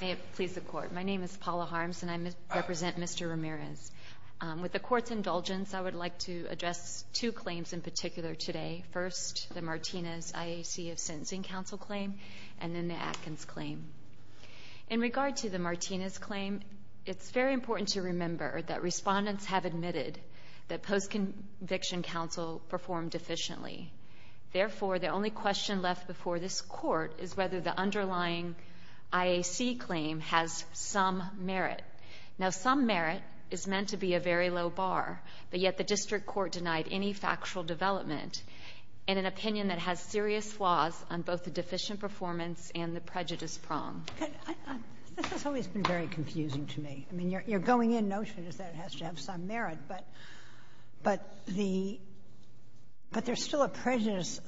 May it please the Court. My name is Paula Harms and I represent Mr. Ramirez. With the Court's indulgence, I would like to address two claims in particular today. First, the Martinez IAC sentencing counsel claim, and then the Atkins claim. In regard to the Martinez claim, it's very important to remember that respondents have admitted that post-conviction counsel performed efficiently. Therefore, the only question left before this Court is whether the underlying IAC claim has some merit. Now, some merit is meant to be a very low bar, but yet the District Court denied any factual development in an opinion that has serious flaws on both the deficient performance and the prejudice problem. This has always been very confusing to me. I mean, your going-in notion is that it has to have some merit, but there's still a prejudice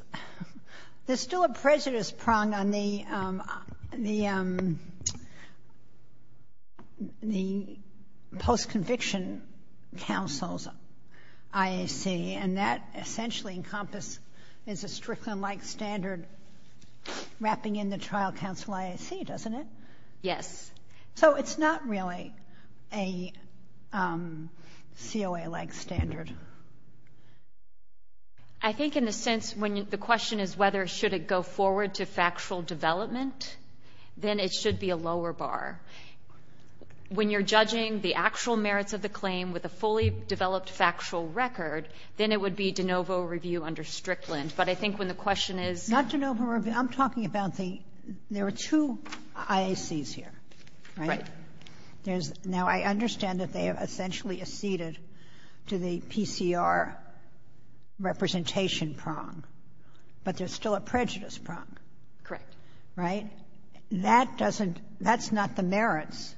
prong on the post-conviction counsel's IAC, and that essentially encompasses a Strickland-like standard wrapping in the trial counsel IAC, doesn't it? Yes. So it's not really a COA-like standard? I think in a sense, when the question is whether should it go forward to factual development, then it should be a lower bar. When you're judging the actual merits of the claim with a fully developed factual record, then it would be de novo review under Strickland, but I think when the question is... Not de novo review. I'm talking about the... There are two IACs here, right? Right. Now, I understand that they have essentially acceded to the PCR representation prong, but there's still a prejudice prong. Correct. Right? That doesn't... That's not the merits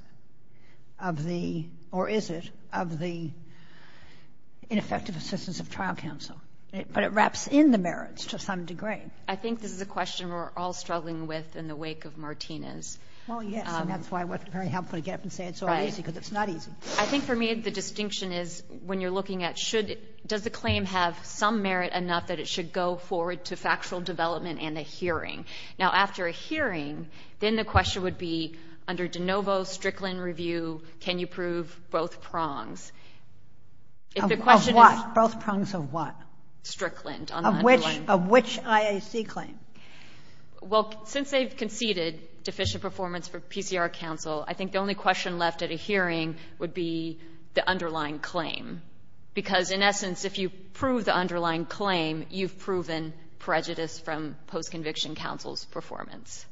of the, or is it, of the ineffective assistance of trial counsel, but it wraps in the merits to some degree. I think this is a question we're all struggling with in the wake of Martinez. Oh, yes. And that's why it wasn't very helpful to get up and say it's so easy because it's not easy. I think for me the distinction is when you're looking at does the claim have some merit and not that it should go forward to factual development and a hearing. Now, after a hearing, then the question would be under de novo Strickland review, can you prove both prongs? If the question... Of what? Both prongs of what? Strickland. Of which IAC claim? Well, since they've conceded deficient performance for PCR counsel, I think the only question left at a hearing would be the underlying claim. Because, in essence, if you prove the underlying claim, you've proven prejudice from post-conviction counsel's performance.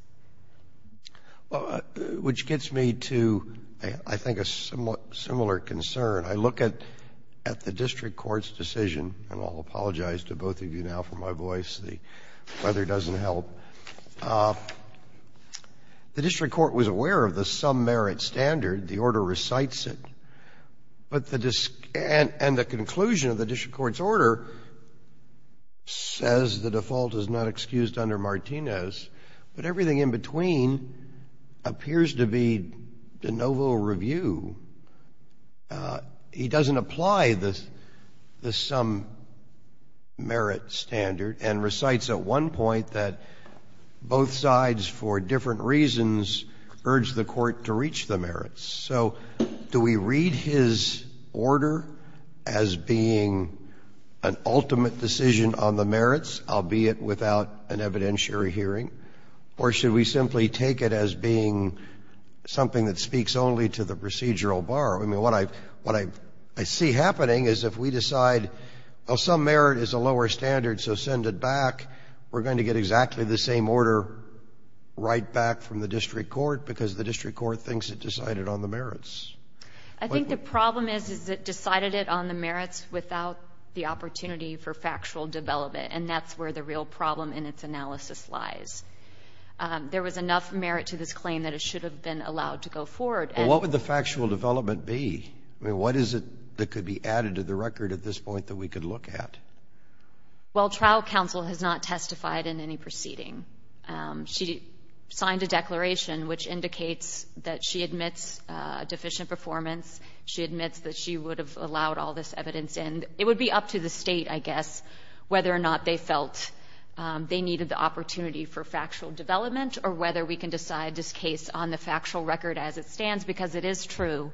Which gets me to, I think, a somewhat similar concern. I look at the district court's decision, and I'll apologize to both of you now for my voice. The weather doesn't help. The district court was aware of the some merit standard. The order recites it. And the conclusion of the district court's order says the default is not excused under Martinez, but everything in between appears to be de novo review. He doesn't apply the some merit standard and recites at one point that both sides for different reasons urge the court to reach the merits. So do we read his order as being an ultimate decision on the merits, albeit without an evidentiary hearing? Or should we simply take it as being something that speaks only to the procedural bar? I mean, what I see happening is if we decide, oh, some merit is a lower standard, so send it back, we're going to get exactly the same order right back from the district court because the district court thinks it decided on the merits. I think the problem is it decided it on the merits without the opportunity for factual development. And that's where the real problem in its analysis lies. There was enough merit to this claim that it should have been allowed to go forward. What would the factual development be? I mean, what is it that could be added to the record at this point that we could look at? Well, trial counsel has not testified in any proceeding. She signed a declaration which indicates that she admits deficient performance. She admits that she would have allowed all this evidence in. It would be up to the state, I guess, whether or not they felt they needed the opportunity for factual development or whether we can decide this case on the factual record as it stands because it is true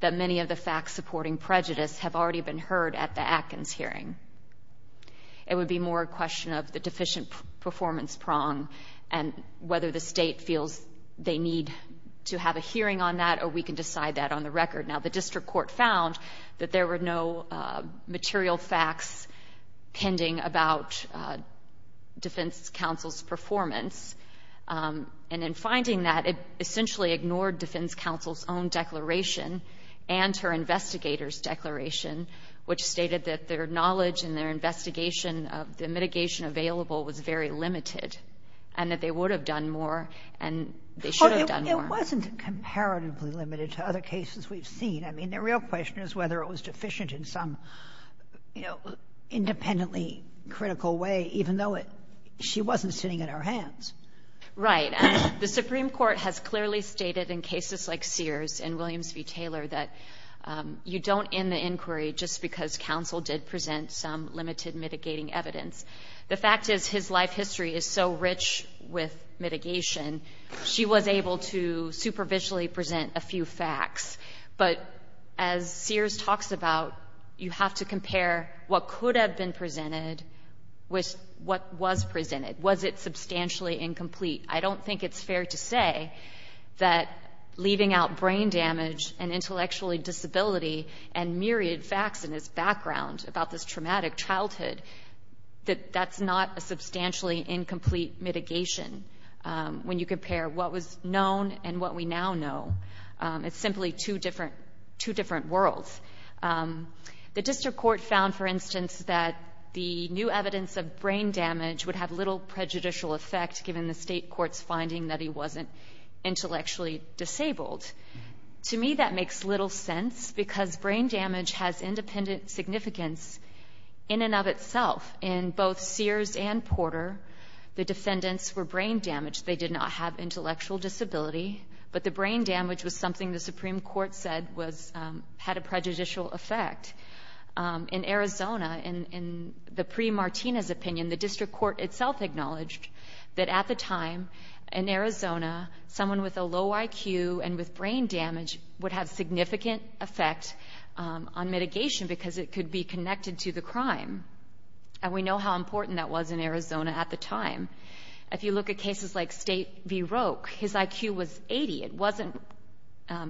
that many of the facts supporting prejudice have already been heard at the Atkins hearing. It would be more a question of the deficient performance prong and whether the state feels they need to have a hearing on that or we can decide that on the record. Now, the district court found that there were no material facts pending about defense counsel's performance. And in finding that, it essentially ignored defense counsel's own declaration and her investigator's declaration, which stated that their knowledge and their investigation of the mitigation available was very limited and that they would have done more and they should have done more. It wasn't comparatively limited to other cases we've seen. I mean, the real question is whether it was deficient in some independently critical way, even though she wasn't sitting at our hands. Right. The Supreme Court has clearly stated in cases like Sears and Williams v. Taylor that you don't end the inquiry just because counsel did present some limited mitigating evidence. The fact is his life history is so rich with mitigation, she was able to superficially present a few facts. But as Sears talks about, you have to compare what could have been presented with what was presented. Was it substantially incomplete? I don't think it's fair to say that leaving out brain damage and intellectually disability and myriad facts in his background about this traumatic childhood, that that's not a substantially incomplete mitigation when you compare what was known and what we now know. It's simply two different worlds. The district court found, for instance, that the new evidence of brain damage would have little prejudicial effect given the state court's finding that he wasn't intellectually disabled. To me that makes little sense because brain damage has independent significance in and of itself. In both Sears and Porter, the defendants were brain damaged. They did not have intellectual disability, but the brain damage was something the Supreme Court said had a prejudicial effect. In Arizona, in the pre-Martinez opinion, the district court itself acknowledged that at the time in Arizona, someone with a low IQ and with brain damage would have significant effect on mitigation because it could be connected to the crime. We know how important that was in Arizona at the time. If you look at cases like State v. Roque, his IQ was 80. It wasn't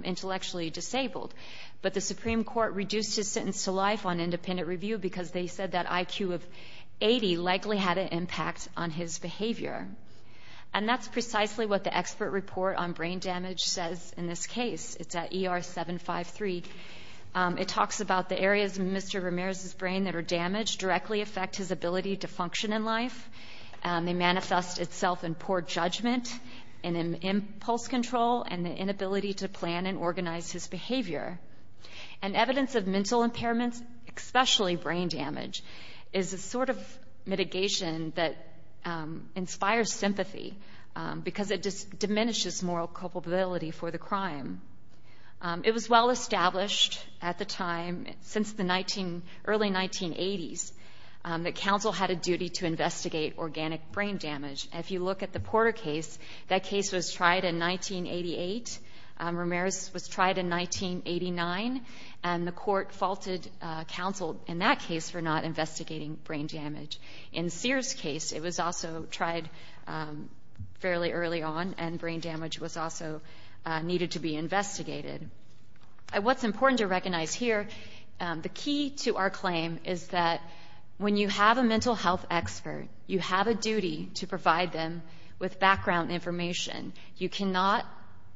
intellectually disabled. But the Supreme Court reduced his sentence to life on independent review because they said that IQ of 80 likely had an impact on his behavior. And that's precisely what the expert report on brain damage says in this case. It's at ER 753. It talks about the areas in Mr. Ramirez's brain that are damaged directly affect his ability to function in life. They manifest itself in poor judgment and in pulse control and the inability to plan and organize his behavior. And evidence of mental impairments, especially brain damage, is a sort of mitigation that inspires sympathy because it diminishes moral culpability for the crime. It was well established at the time, since the early 1980s, that counsel had a duty to investigate organic brain damage. If you look at the Porter case, that case was tried in 1988. Ramirez was tried in 1989. And the court faulted counsel in that case for not investigating brain damage. In Sears' case, it was also tried fairly early on, and brain damage was also needed to be investigated. What's important to recognize here, the key to our claim is that when you have a mental health expert, you have a duty to provide them with background information. You cannot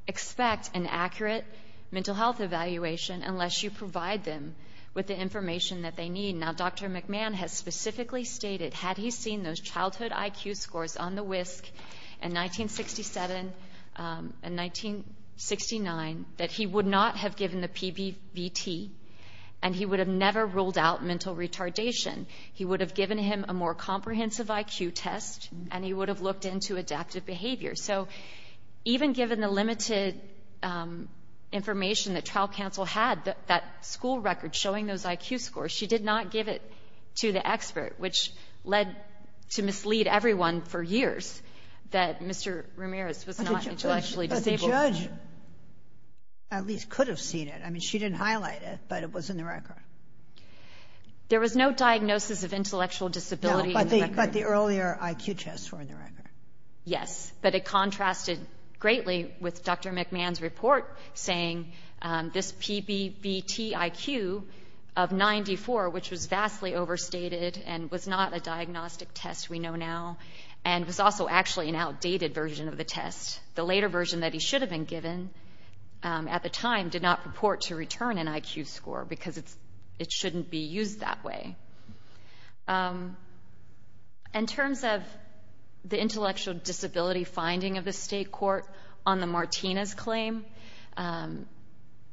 expect an accurate mental health evaluation unless you provide them with the information that they need. Now, Dr. McMahon has specifically stated, had he seen those childhood IQ scores on the WISC in 1967 and 1969, that he would not have given the PBBT and he would have never ruled out mental retardation. He would have given him a more comprehensive IQ test and he would have looked into adaptive behavior. So even given the limited information that child counsel had, that school record showing those IQ scores, she did not give it to the expert, which led to mislead everyone for years that Mr. Ramirez was not intellectually disabled. But the judge at least could have seen it. I mean, she didn't highlight it, but it was in the record. There was no diagnosis of intellectual disability in the record. But the earlier IQ tests were in the record. Yes, but it contrasted greatly with Dr. McMahon's report saying this PBBT IQ of 94, which was vastly overstated and was not a diagnostic test we know now, and was also actually an outdated version of the test, the later version that he should have been given at the time, did not report to return an IQ score because it shouldn't be used that way. In terms of the intellectual disability finding of the state court on the Martinez claim,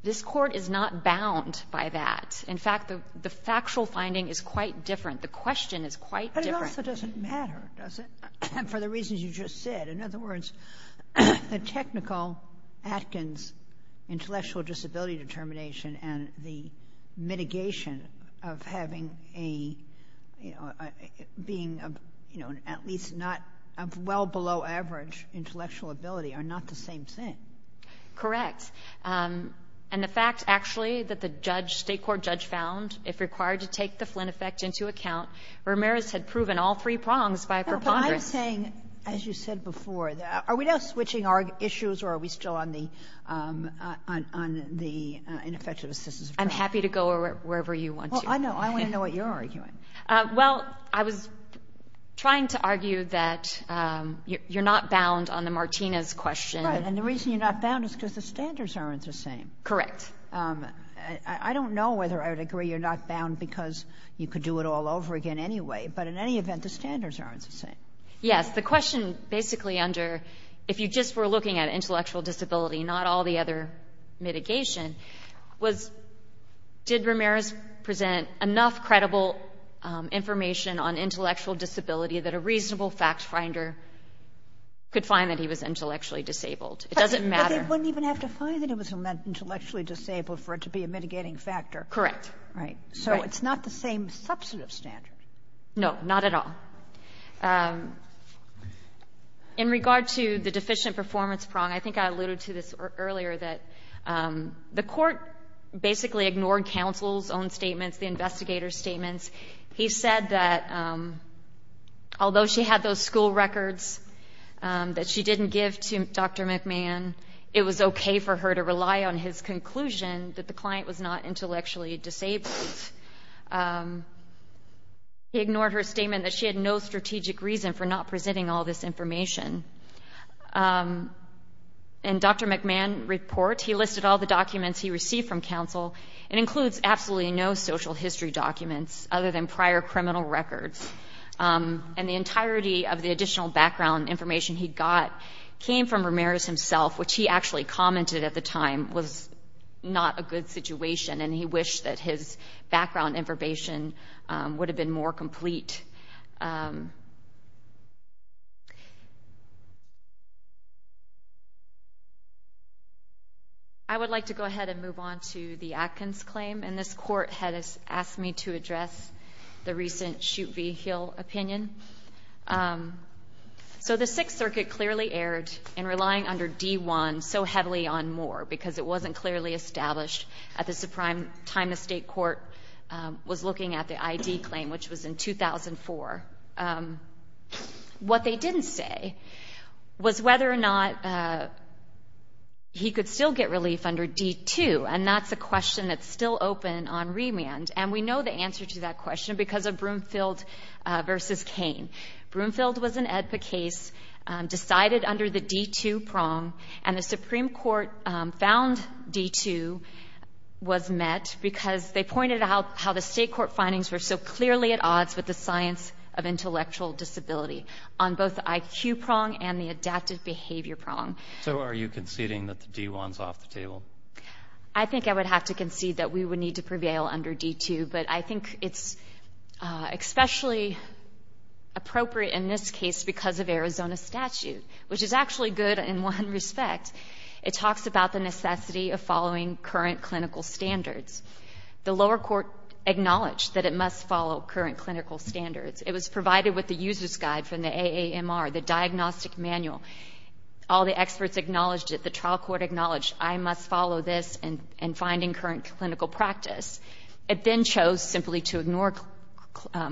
this court is not bound by that. In fact, the factual finding is quite different. The question is quite different. But it also doesn't matter, does it, for the reasons you just said. In other words, a technical Atkins intellectual disability determination and the mitigation of having a being at least not a well below average intellectual ability are not the same thing. Correct. And the facts actually that the state court judge found, if required to take the Flynn effect into account, Ramirez had proven all three prongs by her partner. I'm saying, as you said before, are we now switching our issues or are we still on the intellectual assistance? I'm happy to go wherever you want to. Well, I want to know what you're arguing. Well, I was trying to argue that you're not bound on the Martinez question. Right. And the reason you're not bound is because the standards aren't the same. Correct. I don't know whether I would agree you're not bound because you could do it all over again anyway, but in any event, the standards aren't the same. Yes. The question basically under if you just were looking at intellectual disability, not all the other mitigation, was did Ramirez present enough credible information on intellectual disability that a reasonable fact finder could find that he was intellectually disabled? It doesn't matter. But they wouldn't even have to find that he was intellectually disabled for it to be a mitigating factor. Correct. Right. So it's not the same substantive standard. No, not at all. In regard to the deficient performance problem, I think I alluded to this earlier, that the court basically ignored counsel's own statements, the investigator's statements. He said that although she had those school records that she didn't give to Dr. McMahon, it was okay for her to rely on his conclusion that the client was not intellectually disabled. He ignored her statement that she had no strategic reason for not presenting all this information. In Dr. McMahon's report, he listed all the documents he received from counsel and includes absolutely no social history documents other than prior criminal records. And the entirety of the additional background information he got came from Ramirez himself, which he actually commented at the time was not a good situation, and he wished that his background information would have been more complete. I would like to go ahead and move on to the Atkins claim, and this court has asked me to address the recent Shute v. Hill opinion. So the Sixth Circuit clearly erred in relying under D-1 so heavily on Moore because it wasn't clearly established at the time the state court was looking at the ID claim, which was in 2004. What they didn't say was whether or not he could still get relief under D-2, and that's a question that's still open on remand, and we know the answer to that question because of Broomfield v. Cain. Broomfield was an advocate, decided under the D-2 prong, and the Supreme Court found D-2 was met because they pointed out how the state court findings were so clearly at odds with the science of intellectual disability on both the IQ prong and the adaptive behavior prong. So are you conceding that the D-1 is off the table? I think I would have to concede that we would need to prevail under D-2, but I think it's especially appropriate in this case because of Arizona statute, which is actually good in one respect. It talks about the necessity of following current clinical standards. The lower court acknowledged that it must follow current clinical standards. It was provided with the user's guide from the AAMR, the diagnostic manual. All the experts acknowledged it. The trial court acknowledged I must follow this in finding current clinical practice. It then chose simply to ignore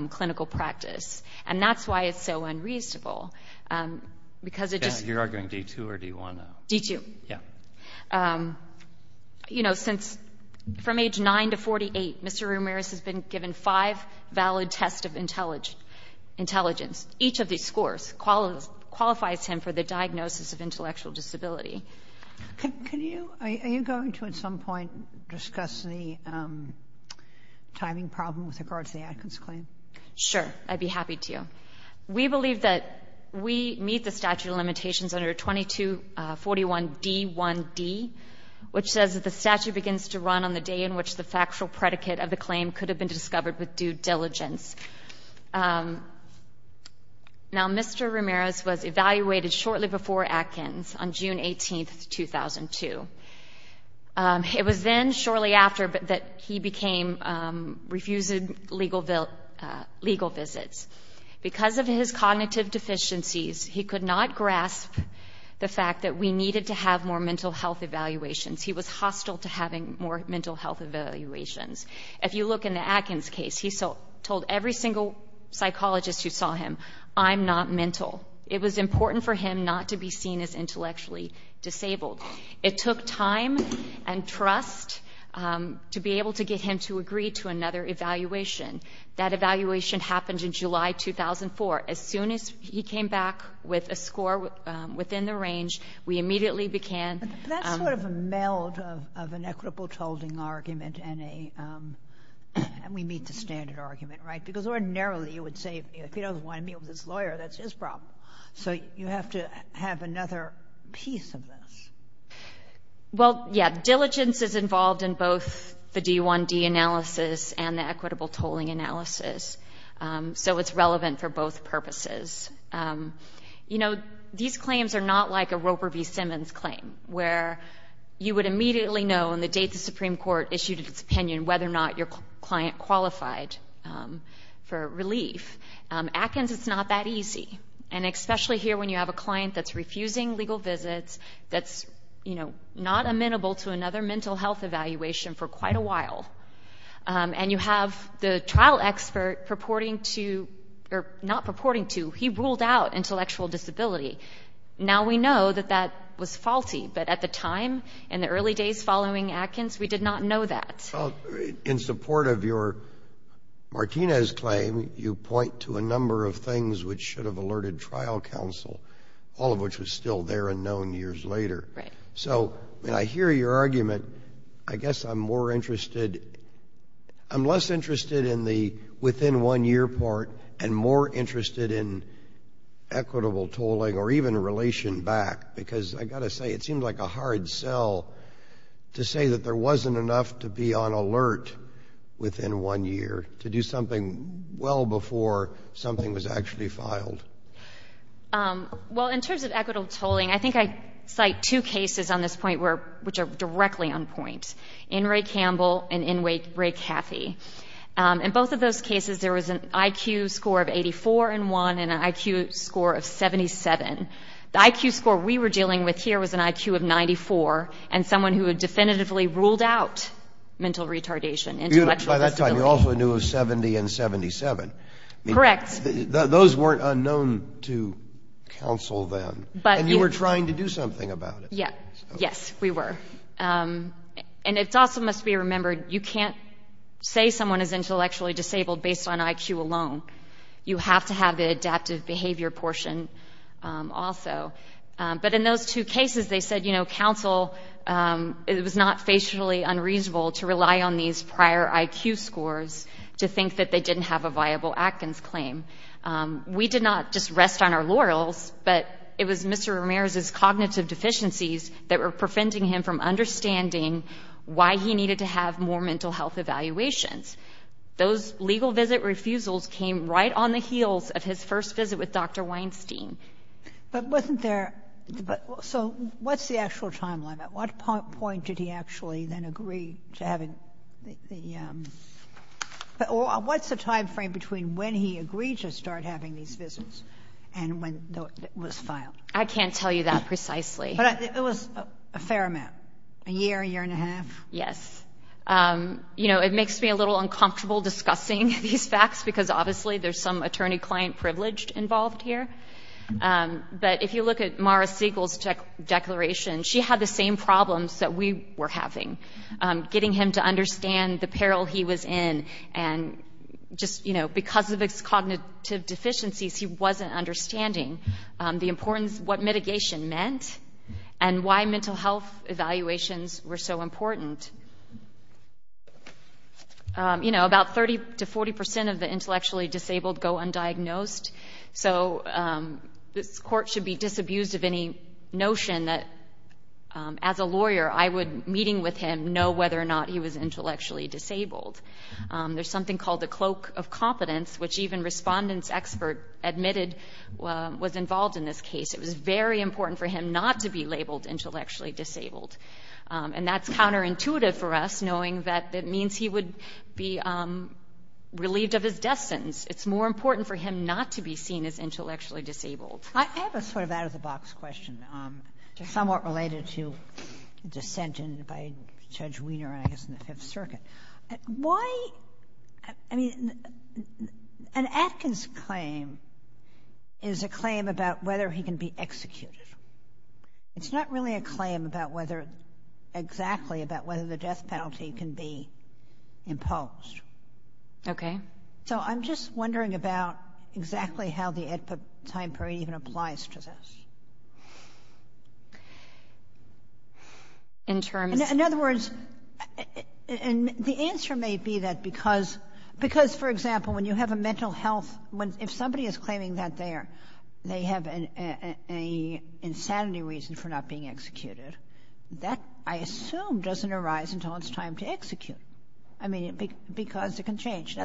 clinical practice, and that's why it's so unreasonable. You're arguing D-2 or D-1? D-2. You know, from age 9 to 48, Mr. Ramirez has been given five valid tests of intelligence. Each of these scores qualifies him for the diagnosis of intellectual disability. Are you going to at some point discuss the timing problem with regard to the Adkins claim? Sure, I'd be happy to. We believe that we meet the statute of limitations under 2241 D-1B, which says that the statute begins to run on the day in which the factual predicate of the claim could have been discovered with due diligence. Now, Mr. Ramirez was evaluated shortly before Adkins on June 18, 2002. It was then shortly after that he became refused legal visits. Because of his cognitive deficiencies, he could not grasp the fact that we needed to have more mental health evaluations. He was hostile to having more mental health evaluations. If you look in the Adkins case, he told every single psychologist who saw him, I'm not mental. It was important for him not to be seen as intellectually disabled. It took time and trust to be able to get him to agree to another evaluation. That evaluation happened in July 2004. As soon as he came back with a score within the range, we immediately began. That's sort of a meld of an equitable tolling argument and we meet the standard argument, right? Because ordinarily you would say, if he doesn't want to meet with his lawyer, that's his problem. So you have to have another piece of this. Well, yeah, diligence is involved in both the D-1D analysis and the equitable tolling analysis. So it's relevant for both purposes. You know, these claims are not like a Roper v. Simmons claim, where you would immediately know on the day the Supreme Court issued its opinion whether or not your client qualified for relief. Atkins, it's not that easy, and especially here when you have a client that's refusing legal visits, that's not amenable to another mental health evaluation for quite a while, and you have the trial expert purporting to, or not purporting to, he ruled out intellectual disability. Now we know that that was faulty, but at the time, in the early days following Atkins, we did not know that. In support of your Martinez claim, you point to a number of things which should have alerted trial counsel, all of which was still there and known years later. Right. So when I hear your argument, I guess I'm more interested, I'm less interested in the within one year part and more interested in equitable tolling or even relation back, because I've got to say, it seems like a hard sell to say that there wasn't enough to be on alert within one year, to do something well before something was actually filed. Well, in terms of equitable tolling, I think I cite two cases on this point which are directly on point. In Ray Campbell and in Ray Cathy. In both of those cases, there was an IQ score of 84 and 1 and an IQ score of 77. The IQ score we were dealing with here was an IQ of 94, and someone who had definitively ruled out mental retardation. By that time, you also knew it was 70 and 77. Correct. Those weren't unknown to counsel then, and you were trying to do something about it. Yes, we were. And it also must be remembered, you can't say someone is intellectually disabled based on IQ alone. You have to have the adaptive behavior portion also. But in those two cases, they said, you know, it was not facially unreasonable to rely on these prior IQ scores to think that they didn't have a viable Atkins claim. We did not just rest on our laurels, but it was Mr. Ramirez's cognitive deficiencies that were preventing him from understanding why he needed to have more mental health evaluations. Those legal visit refusals came right on the heels of his first visit with Dr. Weinstein. But wasn't there, so what's the actual timeline? At what point did he actually then agree to having the, what's the time frame between when he agreed to start having these visits and when it was filed? I can't tell you that precisely. But it was a fair amount, a year, a year and a half? Yes. You know, it makes me a little uncomfortable discussing these facts because obviously there's some attorney-client privilege involved here. But if you look at Mara Siegel's declaration, she had the same problems that we were having, getting him to understand the peril he was in. And just, you know, because of his cognitive deficiencies, he wasn't understanding the importance of what mitigation meant and why mental health evaluations were so important. You know, about 30 to 40 percent of the intellectually disabled go undiagnosed. So the court should be disabused of any notion that as a lawyer, I would, meeting with him, know whether or not he was intellectually disabled. There's something called the cloak of competence, which even respondents expert admitted was involved in this case. It was very important for him not to be labeled intellectually disabled. And that's counterintuitive for us, knowing that it means he would be relieved of his defense. It's more important for him not to be seen as intellectually disabled. I have a sort of out-of-the-box question, somewhat related to dissent by Judge Wiener, I guess, in the Fifth Circuit. Why, I mean, an Atkins claim is a claim about whether he can be executed. It's not really a claim about whether, exactly, about whether the death penalty can be imposed. Okay? So I'm just wondering about exactly how the time period even applies to this. In terms... In other words, and the answer may be that because, because, for example, when you have a mental health, if somebody is claiming that they have an insanity reason for not being executed, that, I assume, doesn't arise until it's time to execute. I mean, because it can change.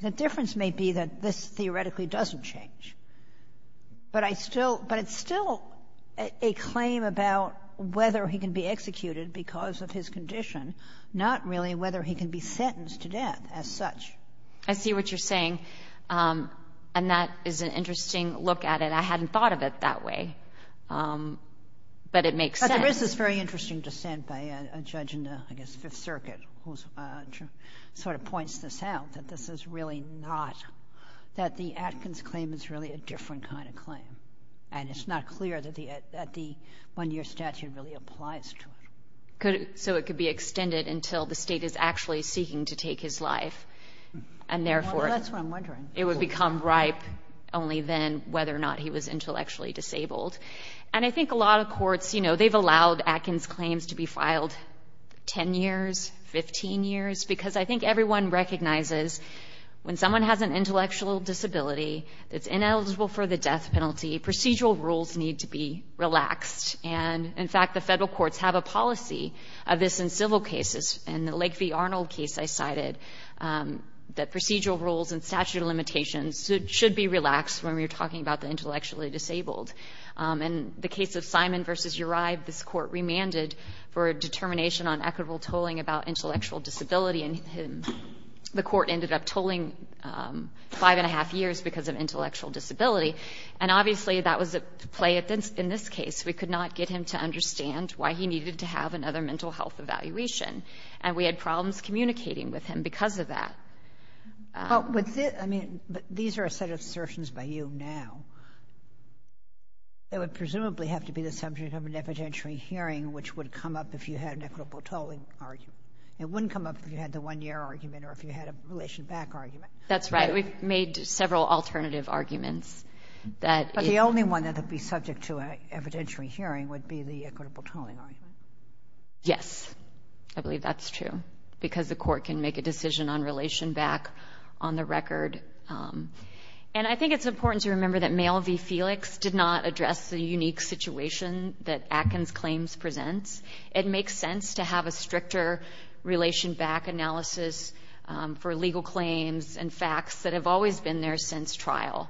The difference may be that this theoretically doesn't change. But it's still a claim about whether he can be executed because of his condition, not really whether he can be sentenced to death as such. I see what you're saying. And that is an interesting look at it. I hadn't thought of it that way. But it makes sense. But there is this very interesting dissent by a judge in the, I guess, Fifth Circuit, who sort of points this out, that this is really not, that the Atkins claim is really a different kind of claim. And it's not clear that the one-year statute really applies to it. So it could be extended until the State is actually seeking to take his life. And, therefore, it would become ripe only then whether or not he was intellectually disabled. And I think a lot of courts, you know, they've allowed Atkins claims to be filed 10 years, 15 years, because I think everyone recognizes when someone has an intellectual disability that's ineligible for the death penalty, procedural rules need to be relaxed. And, in fact, the federal courts have a policy of this in civil cases. In the Lakeview-Arnold case I cited, the procedural rules and statute of limitations should be relaxed when we're talking about the intellectually disabled. In the case of Simon v. Uribe, this court remanded for a determination on equitable tolling about intellectual disability. And the court ended up tolling five and a half years because of intellectual disability. And, obviously, that was at play in this case. We could not get him to understand why he needed to have another mental health evaluation. And we had problems communicating with him because of that. But these are a set of assertions by you now. It would presumably have to be the subject of an evidentiary hearing, which would come up if you had an equitable tolling argument. It wouldn't come up if you had the one-year argument or if you had a relation back argument. That's right. We've made several alternative arguments. But the only one that would be subject to an evidentiary hearing would be the equitable tolling argument. Yes. I believe that's true because the court can make a decision on relation back on the record. And I think it's important to remember that Mayall v. Felix did not address the unique situation that Atkins claims present. It makes sense to have a stricter relation back analysis for legal claims and facts that have always been there since trial.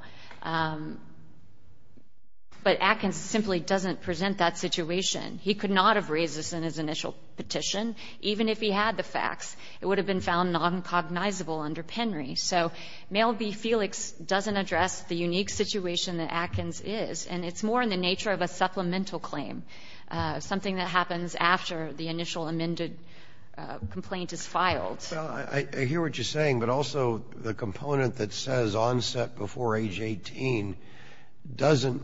But Atkins simply doesn't present that situation. He could not have raised this in his initial petition, even if he had the facts. It would have been found noncognizable under Penry. So Mayall v. Felix doesn't address the unique situation that Atkins is. And it's more in the nature of a supplemental claim, something that happens after the initial amended complaint is filed. Well, I hear what you're saying, but also the component that says onset before age 18 doesn't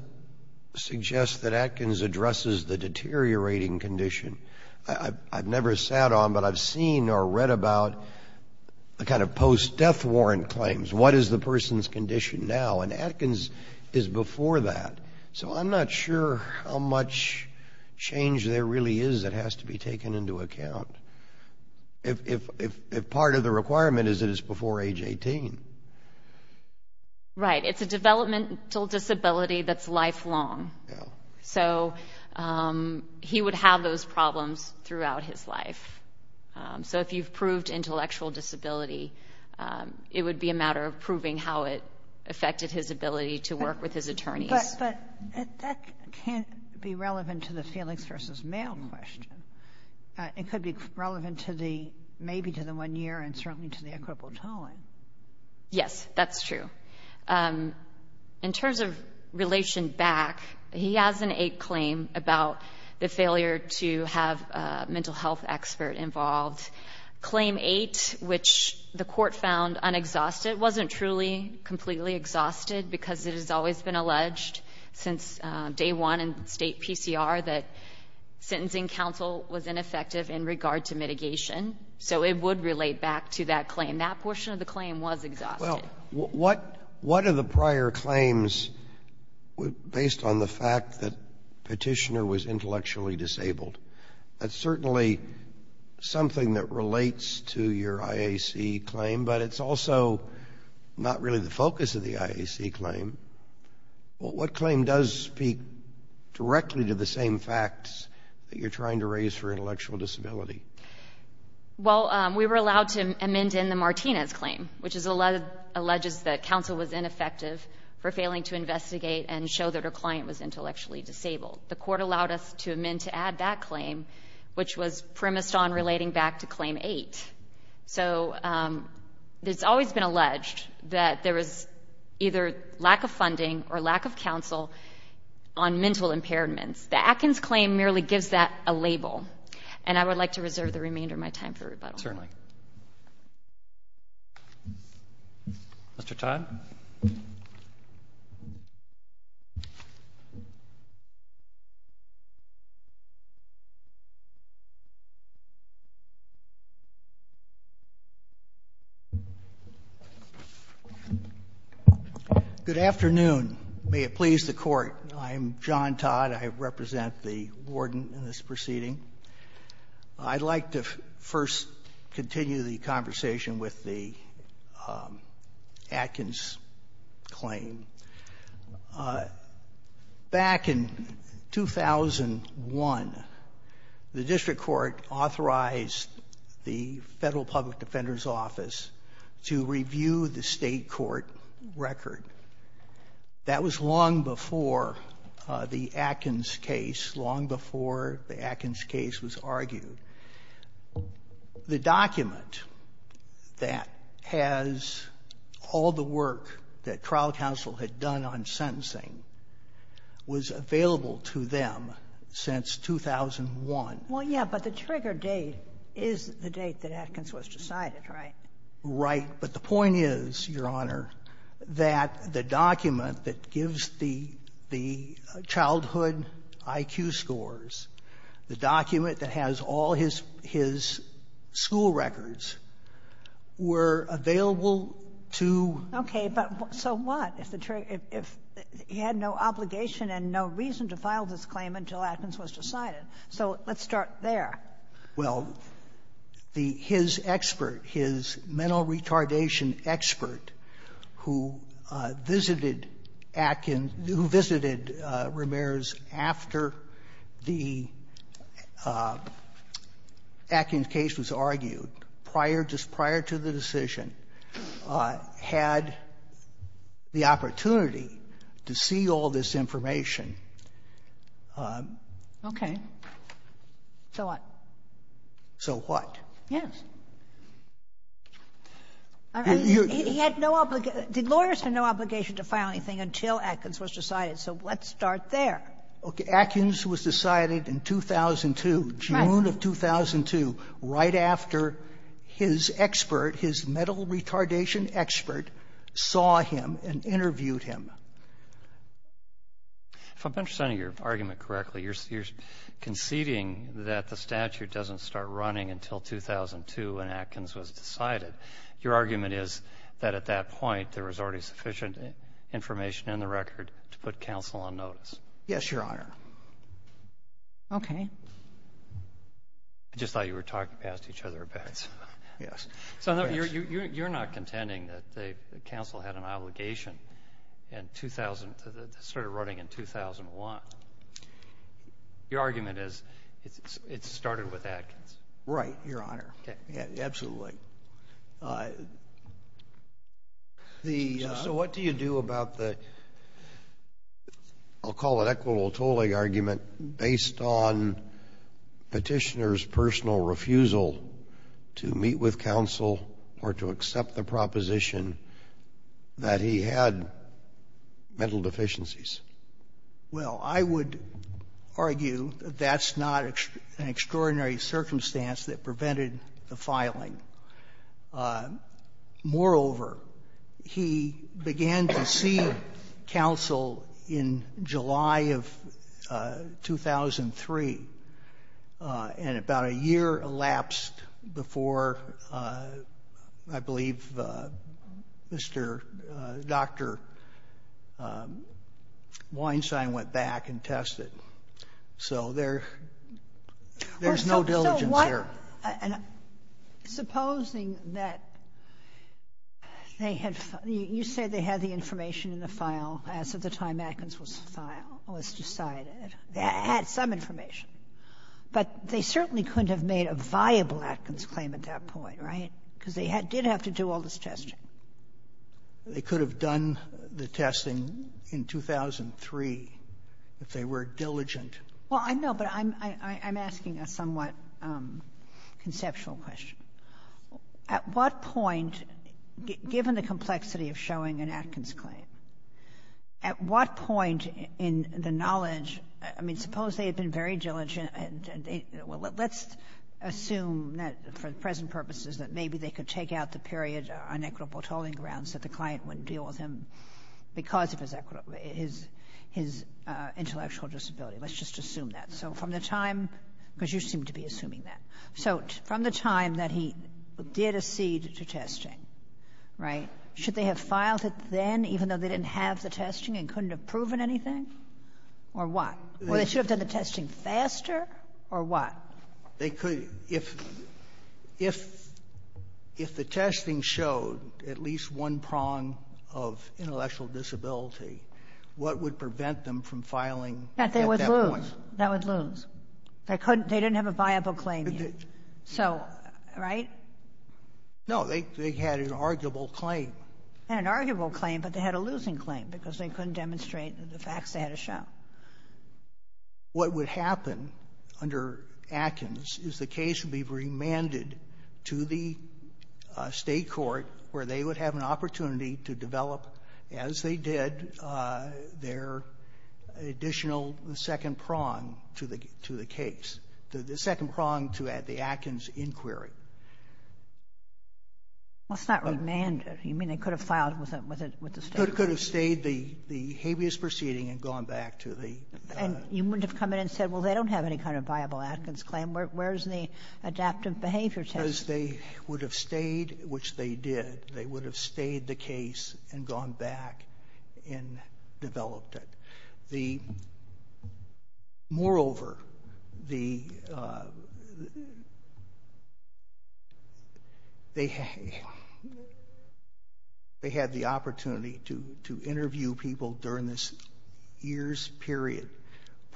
suggest that Atkins addresses the deteriorating condition. I've never sat on, but I've seen or read about the kind of post-death warrant claims. What is the person's condition now? And Atkins is before that. So I'm not sure how much change there really is that has to be taken into account. If part of the requirement is that it's before age 18. Right. It's a developmental disability that's lifelong. So he would have those problems throughout his life. So if you've proved intellectual disability, it would be a matter of proving how it affected his ability to work with his attorneys. But that can't be relevant to the Felix v. Mayall question. It could be relevant maybe to the one year and certainly to the equitable tolling. Yes, that's true. In terms of relations back, he has an eight claim about the failure to have a mental health expert involved. Claim eight, which the court found unexhausted, wasn't truly completely exhausted because it has always been alleged since day one in state PCR that sentencing counsel was ineffective in regard to mitigation. So it would relate back to that claim. That portion of the claim was exhausted. Well, what are the prior claims based on the fact that petitioner was intellectually disabled? That's certainly something that relates to your IAC claim, but it's also not really the focus of the IAC claim. What claim does speak directly to the same facts that you're trying to raise for intellectual disability? Well, we were allowed to amend in the Martinez claim, which alleges that counsel was ineffective for failing to investigate and show that her client was intellectually disabled. The court allowed us to amend to add that claim, which was premised on relating back to claim eight. So it's always been alleged that there was either lack of funding or lack of counsel on mental impairments. The Atkins claim merely gives that a label, and I would like to reserve the remainder of my time for rebuttal. Certainly. Mr. Todd? Good afternoon. May it please the court. I'm John Todd. I represent the warden in this proceeding. I'd like to first continue the conversation with the Atkins claim. Back in 2001, the district court authorized the Federal Public Defender's Office to review the state court record. That was long before the Atkins case, long before the Atkins case was argued. The document that has all the work that trial counsel had done on sentencing was available to them since 2001. Well, yeah, but the trigger date is the date that Atkins was decided, right? Right. But the point is, Your Honor, that the document that gives the childhood IQ scores, the document that has all his school records, were available to — Okay, but so what if he had no obligation and no reason to file this claim until Atkins was decided? So let's start there. Well, his expert, his mental retardation expert who visited Ramirez after the Atkins case was argued, prior to the decision, had the opportunity to see all this information. Okay. And so what? So what? Yes. Did lawyers have no obligation to file anything until Atkins was decided? So let's start there. Okay, Atkins was decided in 2002, June of 2002, right after his expert, his mental retardation expert, saw him and interviewed him. If I'm understanding your argument correctly, you're conceding that the statute doesn't start running until 2002 when Atkins was decided. Your argument is that at that point there was already sufficient information in the record to put counsel on notice. Yes, Your Honor. Okay. I just thought you were talking past each other about it. Yes. You're not contending that counsel had an obligation that started running in 2001. Your argument is it started with Atkins. Right, Your Honor. Okay. Absolutely. So what do you do about the, I'll call it equitable tolling argument, based on Petitioner's personal refusal to meet with counsel or to accept the proposition that he had mental deficiencies? Well, I would argue that's not an extraordinary circumstance that prevented the filing. Moreover, he began to see counsel in July of 2003, and about a year elapsed before, I believe, Dr. Weinstein went back and tested. So there's no diligence here. Supposing that they had, you say they had the information in the file as of the time Atkins was decided. They had some information. But they certainly couldn't have made a viable Atkins claim at that point, right? Because they did have to do all this testing. They could have done the testing in 2003 if they were diligent. Well, I know, but I'm asking a somewhat conceptual question. At what point, given the complexity of showing an Atkins claim, at what point in the knowledge, I mean, suppose they had been very diligent. Let's assume that for present purposes that maybe they could take out the period on equitable tolling grounds that the client wouldn't deal with him because of his intellectual disability. Let's just assume that. So from the time, because you seem to be assuming that. So from the time that he did accede to testing, right, should they have filed it then, even though they didn't have the testing and couldn't have proven anything? Or what? Should they have done the testing faster, or what? If the testing showed at least one prong of intellectual disability, what would prevent them from filing at that point? That they would lose. They didn't have a viable claim yet. Right? No, they had an arguable claim. An arguable claim, but they had a losing claim because they couldn't demonstrate the facts they had to show. What would happen under Atkins is the case would be remanded to the state court, where they would have an opportunity to develop, as they did, their additional second prong to the case. The second prong to the Atkins inquiry. What's not remanded? You mean they could have filed with the state? They could have stayed the habeas proceeding and gone back to the... And you wouldn't have come in and said, well, they don't have any kind of viable Atkins claim. Where's the adaptive behavior test? They would have stayed, which they did. They would have stayed the case and gone back and developed it. Moreover, they had the opportunity to interview people during this year's period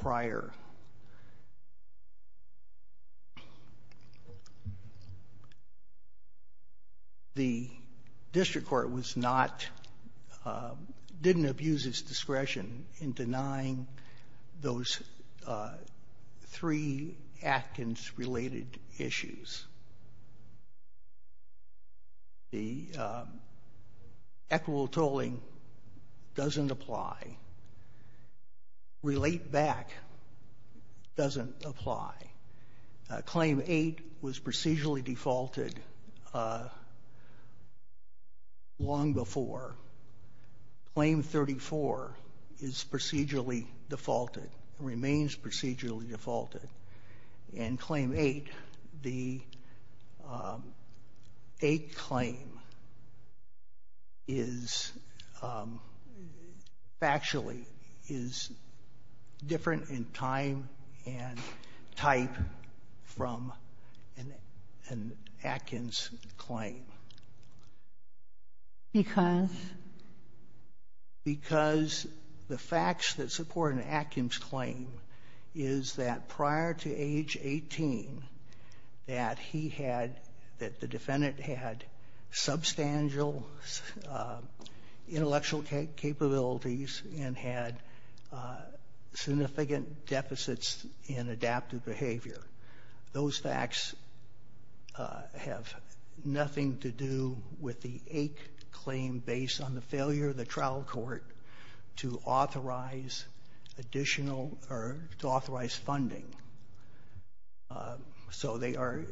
prior. The district court didn't abuse its discretion in denying those three Atkins-related issues. The equitable tolling doesn't apply. Relate back doesn't apply. Claim 8 was procedurally defaulted long before. Claim 34 is procedurally defaulted, remains procedurally defaulted. In claim 8, the 8 claim is factually different in time and type from an Atkins claim. Because? Because the facts that support an Atkins claim is that prior to age 18, that he had, that the defendant had substantial intellectual capabilities and had significant deficits in adaptive behavior. Those facts have nothing to do with the 8 claim based on the failure of the trial court to authorize additional or to authorize funding. So they are...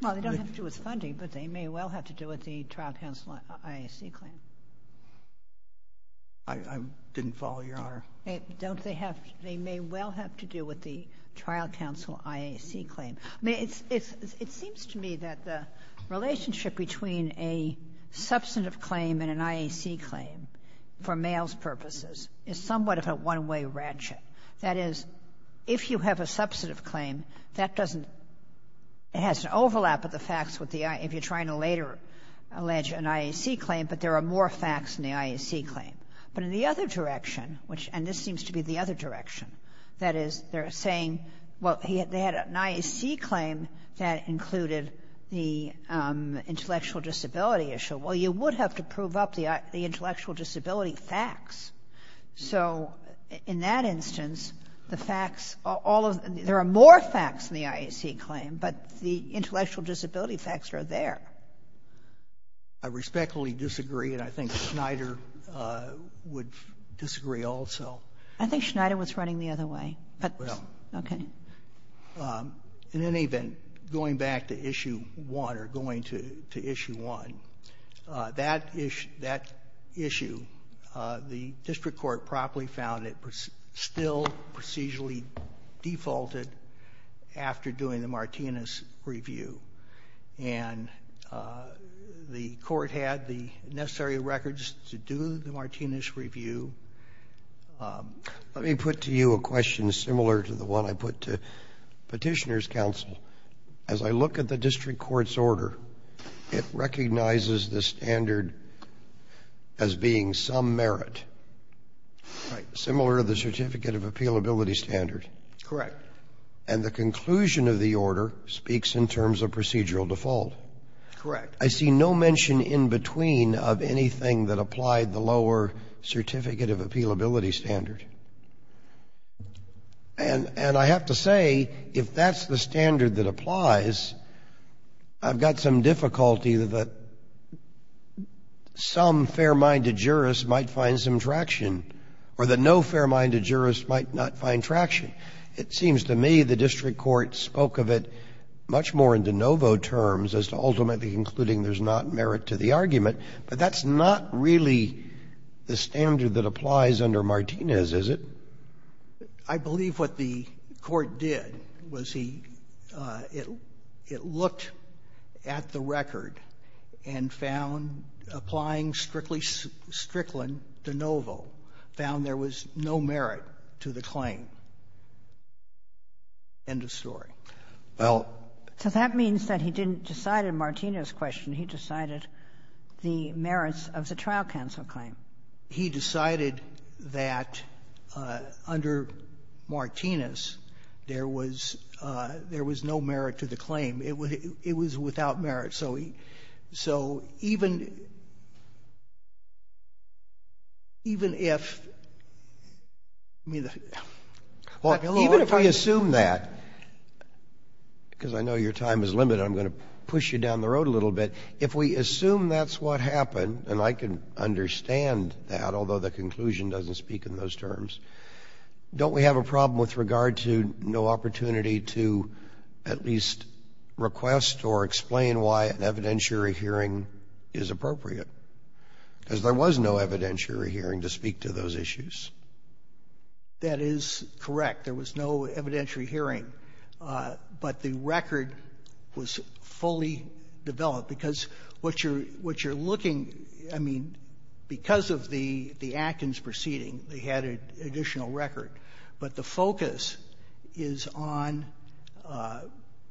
Well, it doesn't have to do with funding, but they may well have to do with the trial counsel IAC claim. I didn't follow your order. They may well have to do with the trial counsel IAC claim. It seems to me that the relationship between a substantive claim and an IAC claim, for males' purposes, is somewhat of a one-way ratchet. That is, if you have a substantive claim, that doesn't... It has an overlap of the facts if you're trying to later allege an IAC claim, but there are more facts in the IAC claim. But in the other direction, which... And this seems to be the other direction. That is, they're saying, well, they had an IAC claim that included the intellectual disability issue. Well, you would have to prove up the intellectual disability facts. So in that instance, the facts... There are more facts in the IAC claim, but the intellectual disability facts are there. I respectfully disagree, and I think Schneider would disagree also. I think Schneider was running the other way, but... Well... Okay. In any event, going back to Issue 1, or going to Issue 1, that issue, the district court properly found it still procedurally defaulted after doing the Martinez review. And the court had the necessary records to do the Martinez review. Let me put to you a question similar to the one I put to Petitioner's Counsel. As I look at the district court's order, it recognizes the standard as being some merit, similar to the Certificate of Appealability standard. Correct. And the conclusion of the order speaks in terms of procedural default. Correct. I see no mention in between of anything that applied the lower Certificate of Appealability standard. And I have to say, if that's the standard that applies, I've got some difficulty that some fair-minded jurists might find some traction, or that no fair-minded jurists might not find traction. It seems to me the district court spoke of it much more in de novo terms as to ultimately concluding there's not merit to the argument. But that's not really the standard that applies under Martinez, is it? I believe what the court did was it looked at the record and found applying strictly de novo found there was no merit to the claim. End of story. So that means that he didn't decide in Martinez's question, he decided the merits of the trial counsel claim. He decided that under Martinez there was no merit to the claim. It was without merit. So even if I assume that, because I know your time is limited, I'm going to push you down the road a little bit. If we assume that's what happened, and I can understand that, although the conclusion doesn't speak in those terms, don't we have a problem with regard to no opportunity to at least request or explain why an evidentiary hearing is appropriate? Because there was no evidentiary hearing to speak to those issues. That is correct. There was no evidentiary hearing. But the record was fully developed. Because what you're looking, I mean, because of the Atkins proceeding, they had an additional record. But the focus is on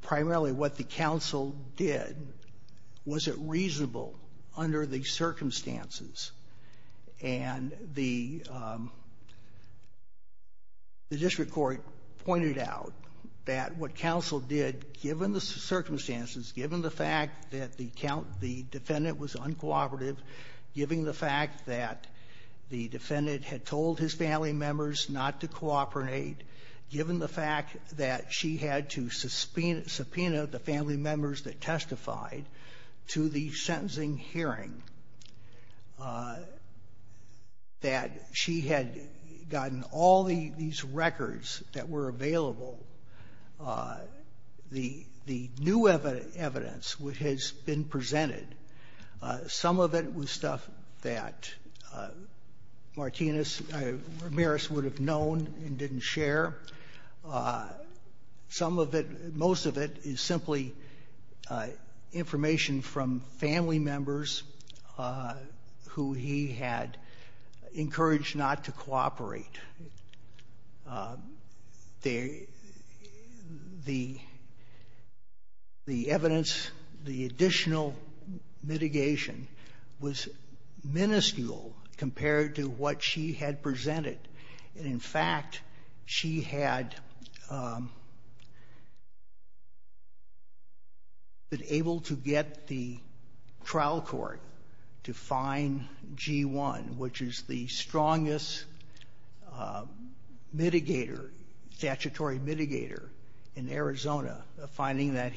primarily what the counsel did. Was it reasonable under the circumstances? And the district court pointed out that what counsel did, given the circumstances, given the fact that the defendant was uncooperative, given the fact that the defendant had told his family members not to cooperate, given the fact that she had to subpoena the family members that testified to the sentencing hearing, that she had gotten all these records that were available, the new evidence has been presented. Some of it was stuff that Martinez, Ramirez would have known and didn't share. Some of it, most of it is simply information from family members who he had encouraged not to cooperate. The evidence, the additional mitigation was miniscule compared to what she had presented. In fact, she had been able to get the trial court to fine G1, which is the strongest statutory mitigator in Arizona, finding that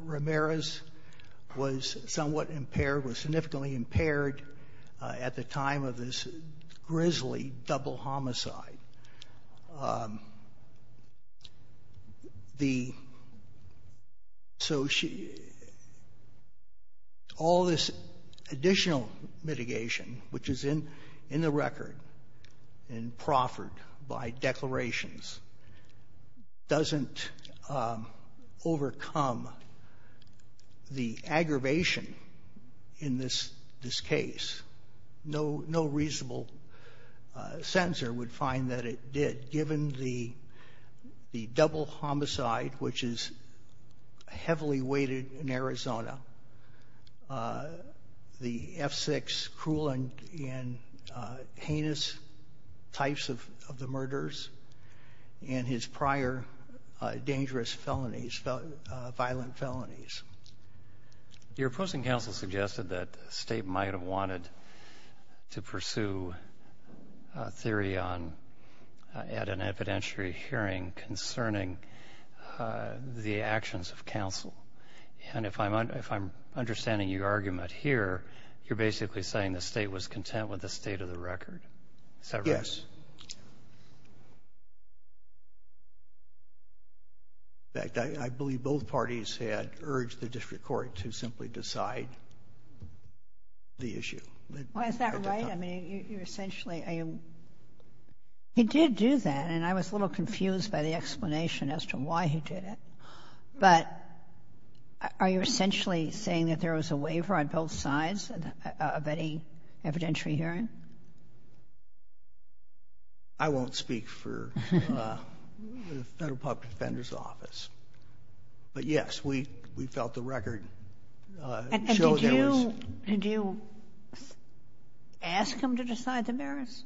Ramirez was somewhat impaired, was significantly impaired at the time of this grisly double homicide. So all this additional mitigation, which is in the record and proffered by declarations, doesn't overcome the aggravation in this case. No reasonable censor would find that it did, given the double homicide, which is heavily weighted in Arizona, the F6 cruel and heinous types of the murders, and his prior dangerous felonies, violent felonies. Your opposing counsel suggested that the state might have wanted to pursue a theory at an evidentiary hearing concerning the actions of counsel. And if I'm understanding your argument here, you're basically saying the state was content with the state of the record? Yes. In fact, I believe both parties had urged the district court to simply decide the issue. Well, is that right? I mean, you're essentially... He did do that, and I was a little confused by the explanation as to why he did it. But are you essentially saying that there was a waiver on both sides of any evidentiary hearing? I won't speak for the Federal Public Defender's Office. But, yes, we felt the record... And did you ask them to decide the merits?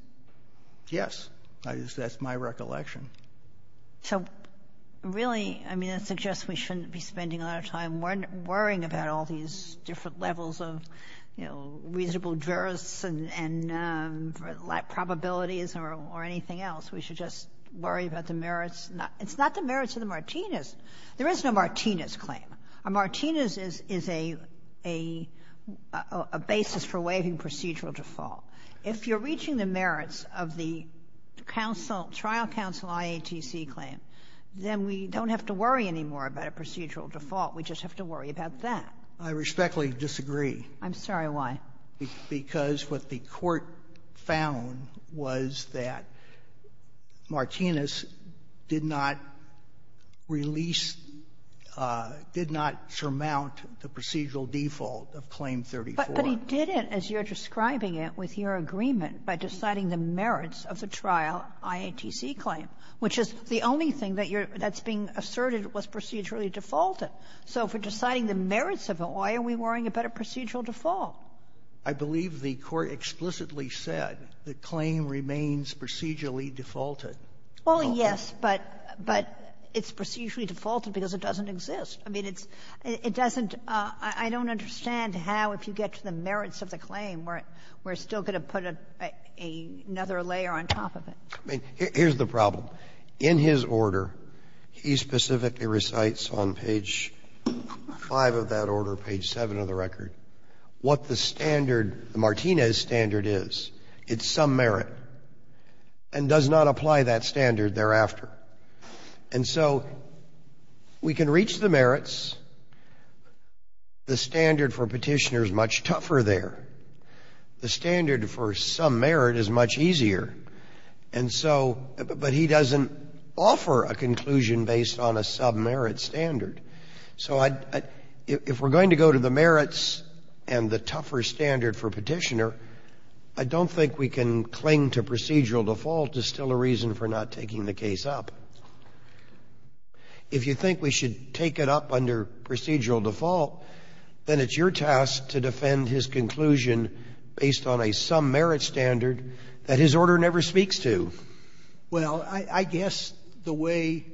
Yes. That's my recollection. So, really, I mean, I suggest we shouldn't be spending a lot of time worrying about all these different levels of, you know, reasonable jurists and probabilities or anything else. We should just worry about the merits. It's not the merits of the Martinez. There is no Martinez claim. A Martinez is a basis for waiving procedural default. If you're reaching the merits of the trial counsel IATC claim, then we don't have to worry anymore about a procedural default. We just have to worry about that. I respectfully disagree. I'm sorry, why? Because what the Court found was that Martinez did not release, did not surmount the procedural default of Claim 34. But he did it, as you're describing it, with your agreement, by deciding the merits of the trial IATC claim, which is the only thing that's being asserted was procedurally defaulted. So for deciding the merits of it, why are we worrying about a procedural default? I believe the Court explicitly said the claim remains procedurally defaulted. Well, yes, but it's procedurally defaulted because it doesn't exist. I mean, it doesn't — I don't understand how, if you get to the merits of the claim, we're still going to put another layer on top of it. Here's the problem. In his order, he specifically recites on page 5 of that order, page 7 of the record, what the standard, the Martinez standard is. It's some merit, and does not apply that standard thereafter. And so we can reach the merits. The standard for Petitioner is much tougher there. The standard for some merit is much easier. And so — but he doesn't offer a conclusion based on a sub-merit standard. So if we're going to go to the merits and the tougher standard for Petitioner, I don't think we can cling to procedural default as still a reason for not taking the case up. If you think we should take it up under procedural default, then it's your task to defend his conclusion based on a sub-merit standard that his order never speaks to. Well, I guess the way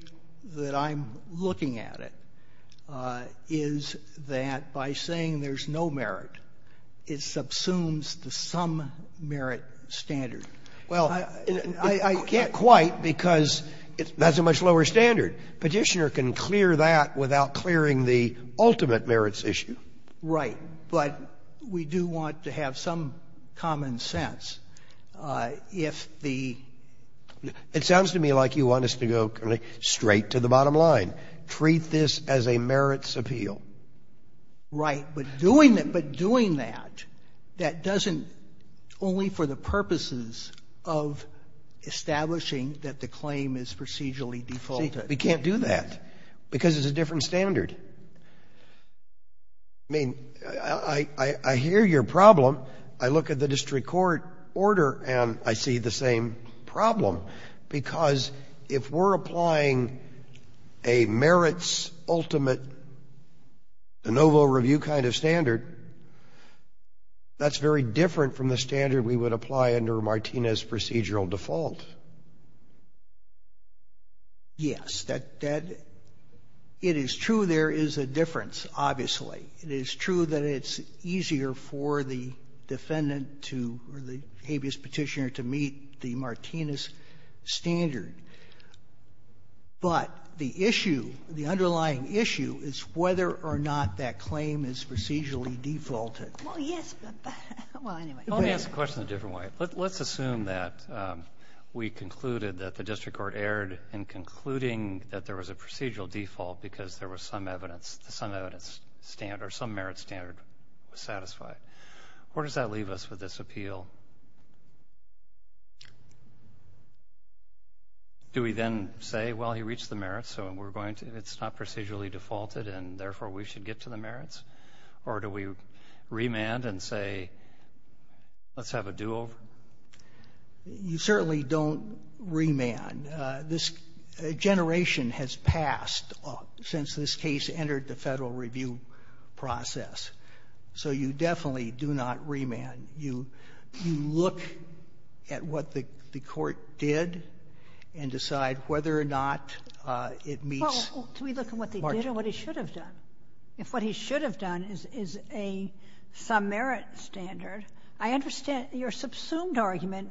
that I'm looking at it is that by saying there's no merit, it subsumes the some merit standard. Well, I can't quite because it's not so much lower standard. Petitioner can clear that without clearing the ultimate merits issue. Right. But we do want to have some common sense. If the — It sounds to me like you want us to go straight to the bottom line. Treat this as a merits appeal. Right. But doing that, that doesn't — only for the purposes of establishing that the claim is procedurally defaulted. We can't do that because it's a different standard. I mean, I hear your problem. I look at the district court order and I see the same problem because if we're applying a merits ultimate, a no vote review kind of standard, that's very different from the standard we would apply under Martinez procedural default. Yes. It is true there is a difference, obviously. It is true that it's easier for the defendant to — or the habeas petitioner to meet the Martinez standard. But the issue, the underlying issue is whether or not that claim is procedurally defaulted. Well, yes. Well, anyway. Let me ask the question a different way. Let's assume that we concluded that the district court erred in concluding that there was a procedural default because there was some evidence, some evidence standard, some merit standard satisfied. Where does that leave us with this appeal? Do we then say, well, he reached the merits so we're going to — it's not procedurally defaulted and therefore we should get to the merits? Or do we remand and say let's have a duel? You certainly don't remand. This generation has passed since this case entered the federal review process. So you definitely do not remand. You look at what the court did and decide whether or not it meets — Well, do we look at what they did or what they should have done? If what he should have done is a some merit standard, I understand your subsumed argument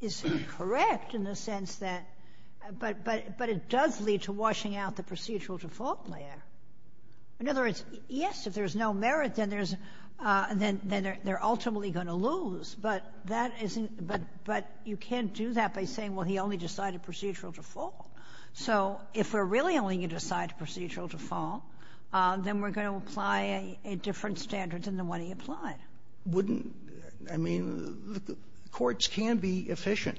is correct in the sense that — but it does lead to washing out the procedural default layer. In other words, yes, if there's no merit, then there's — then they're ultimately going to lose. But that isn't — but you can't do that by saying, well, he only decided procedural default. So if we're really only going to decide procedural default, then we're going to apply a different standard than the one he applied. Wouldn't — I mean, courts can be efficient.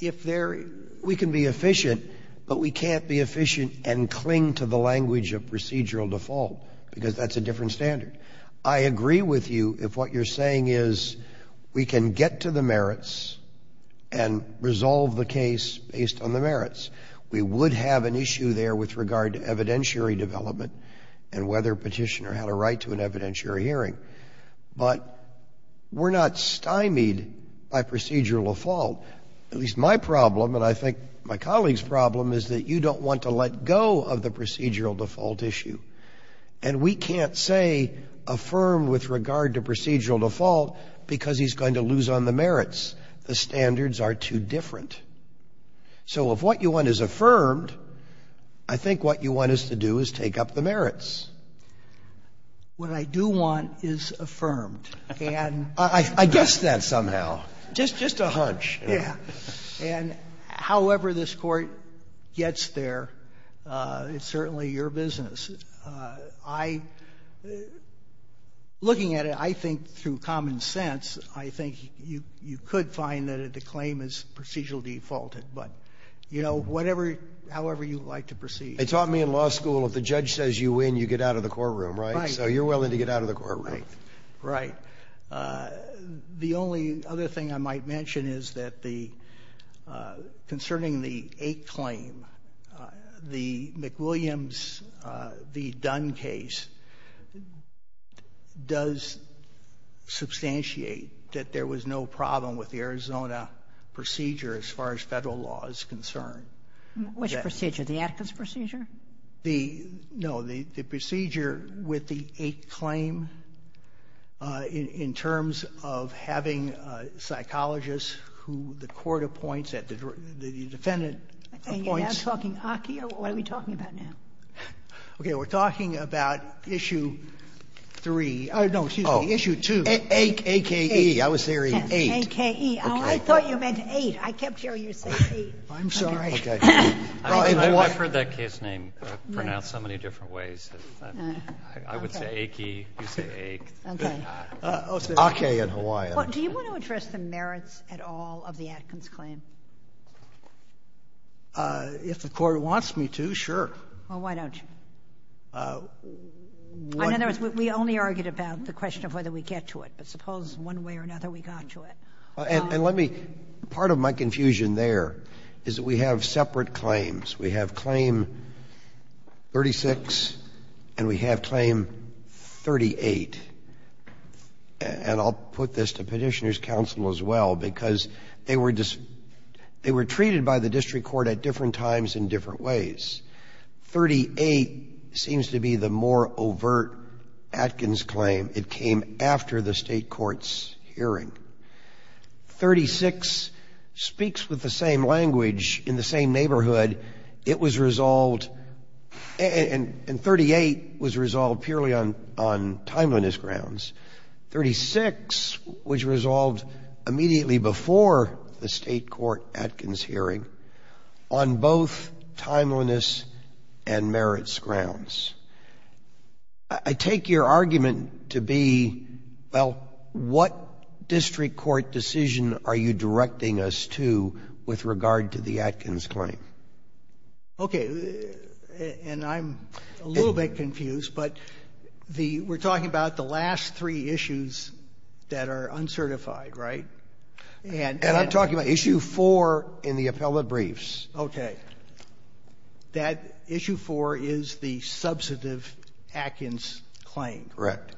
If they're — we can be efficient, but we can't be efficient and cling to the language of procedural default because that's a different standard. I agree with you if what you're saying is we can get to the merits and resolve the case based on the merits. We would have an issue there with regard to evidentiary development and whether a petitioner had a right to an evidentiary hearing. But we're not stymied by procedural default. At least my problem, and I think my colleagues' problem, is that you don't want to let go of the procedural default issue. And we can't say affirm with regard to procedural default because he's going to lose on the merits. The standards are too different. So if what you want is affirmed, I think what you want us to do is take up the merits. What I do want is affirmed. I guessed that somehow. Just a hunch. And however this court gets there, it's certainly your business. Looking at it, I think through common sense, I think you could find that a claim is procedural defaulted. But, you know, however you like to proceed. They taught me in law school if the judge says you win, you get out of the courtroom, right? Right. So you're willing to get out of the courtroom. Right. The only other thing I might mention is that concerning the eight claim, the McWilliams v. Dunn case does substantiate that there was no problem with the Arizona procedure as far as federal law is concerned. Which procedure? The Atkins procedure? No. The procedure with the eight claim in terms of having a psychologist who the court appoints, the defendant appoints. Hang on. Are we talking about Aki or what are we talking about now? Okay. We're talking about issue three. No, excuse me. Issue two. A-K-E. I was hearing eight. A-K-E. I thought you meant eight. I kept hearing you say eight. I'm sorry. I've heard that case name pronounced so many different ways. I would say A-K-E, you say eight. Okay. A-K-E in Hawaii. Do you want to address the merits at all of the Atkins claim? If the court wants me to, sure. Well, why don't you? In other words, we only argued about the question of whether we get to it, but suppose one way or another we got to it. Part of my confusion there is that we have separate claims. We have claim 36 and we have claim 38. I'll put this to petitioner's counsel as well because they were treated by the district court at different times in different ways. 38 seems to be the more overt Atkins claim. It came after the state court's hearing. 36 speaks with the same language in the same neighborhood. It was resolved, and 38 was resolved purely on timeliness grounds. 36 was resolved immediately before the state court Atkins hearing on both timeliness and merits grounds. I take your argument to be, well, what district court decision are you directing us to with regard to the Atkins claim? Okay, and I'm a little bit confused, but we're talking about the last three issues that are uncertified, right? And I'm talking about issue four in the appellate briefs. Okay. That issue four is the substantive Atkins claim. Correct.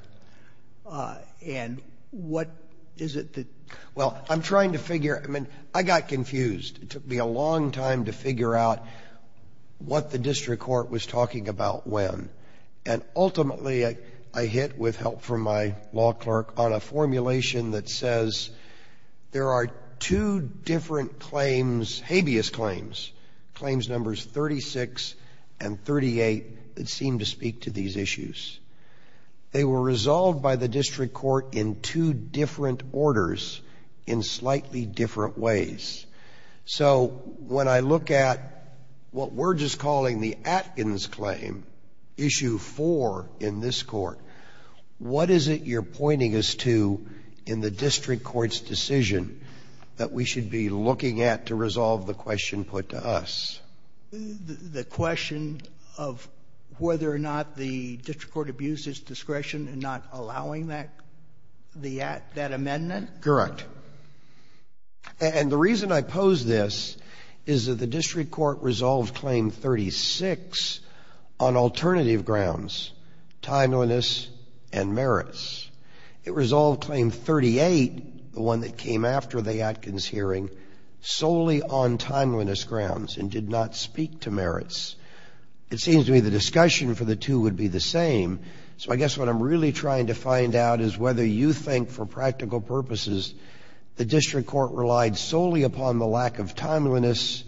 And what is it that? Well, I'm trying to figure, I mean, I got confused. It took me a long time to figure out what the district court was talking about when. And ultimately I hit, with help from my law clerk, on a formulation that says there are two different claims, habeas claims, claims numbers 36 and 38, that seem to speak to these issues. They were resolved by the district court in two different orders in slightly different ways. So when I look at what we're just calling the Atkins claim, issue four in this court, what is it you're pointing us to in the district court's decision that we should be looking at to resolve the question put to us? The question of whether or not the district court abused its discretion in not allowing that amendment. Correct. And the reason I pose this is that the district court resolved claim 36 on alternative grounds, timeliness and merits. It resolved claim 38, the one that came after the Atkins hearing, solely on timeliness grounds and did not speak to merits. It seems to me the discussion for the two would be the same. So I guess what I'm really trying to find out is whether you think, for practical purposes, the district court relied solely upon the lack of timeliness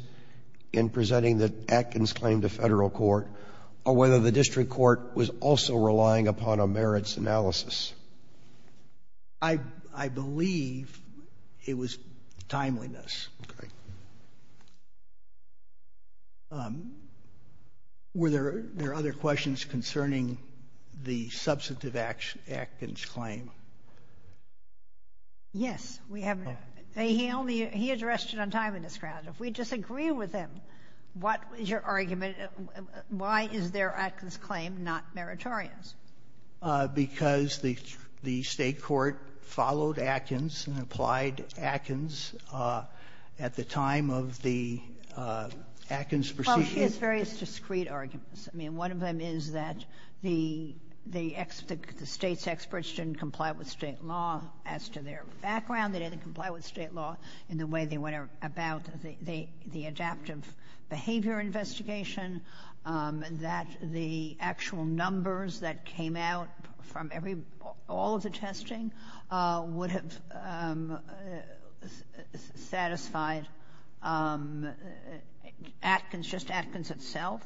in presenting the Atkins claim to federal court, or whether the district court was also relying upon a merits analysis. I believe it was timeliness. Okay. Were there other questions concerning the substantive Atkins claim? Yes. He addressed it on timeliness grounds. If we disagree with him, what is your argument? Why is their Atkins claim not meritorious? Because the state court followed Atkins and applied Atkins at the time of the Atkins proceeding. Well, he has various discreet arguments. I mean, one of them is that the state's experts didn't comply with state law. As to their background, they didn't comply with state law. In the way they went about the adaptive behavior investigation, that the actual numbers that came out from all of the testing would have satisfied Atkins, just Atkins itself,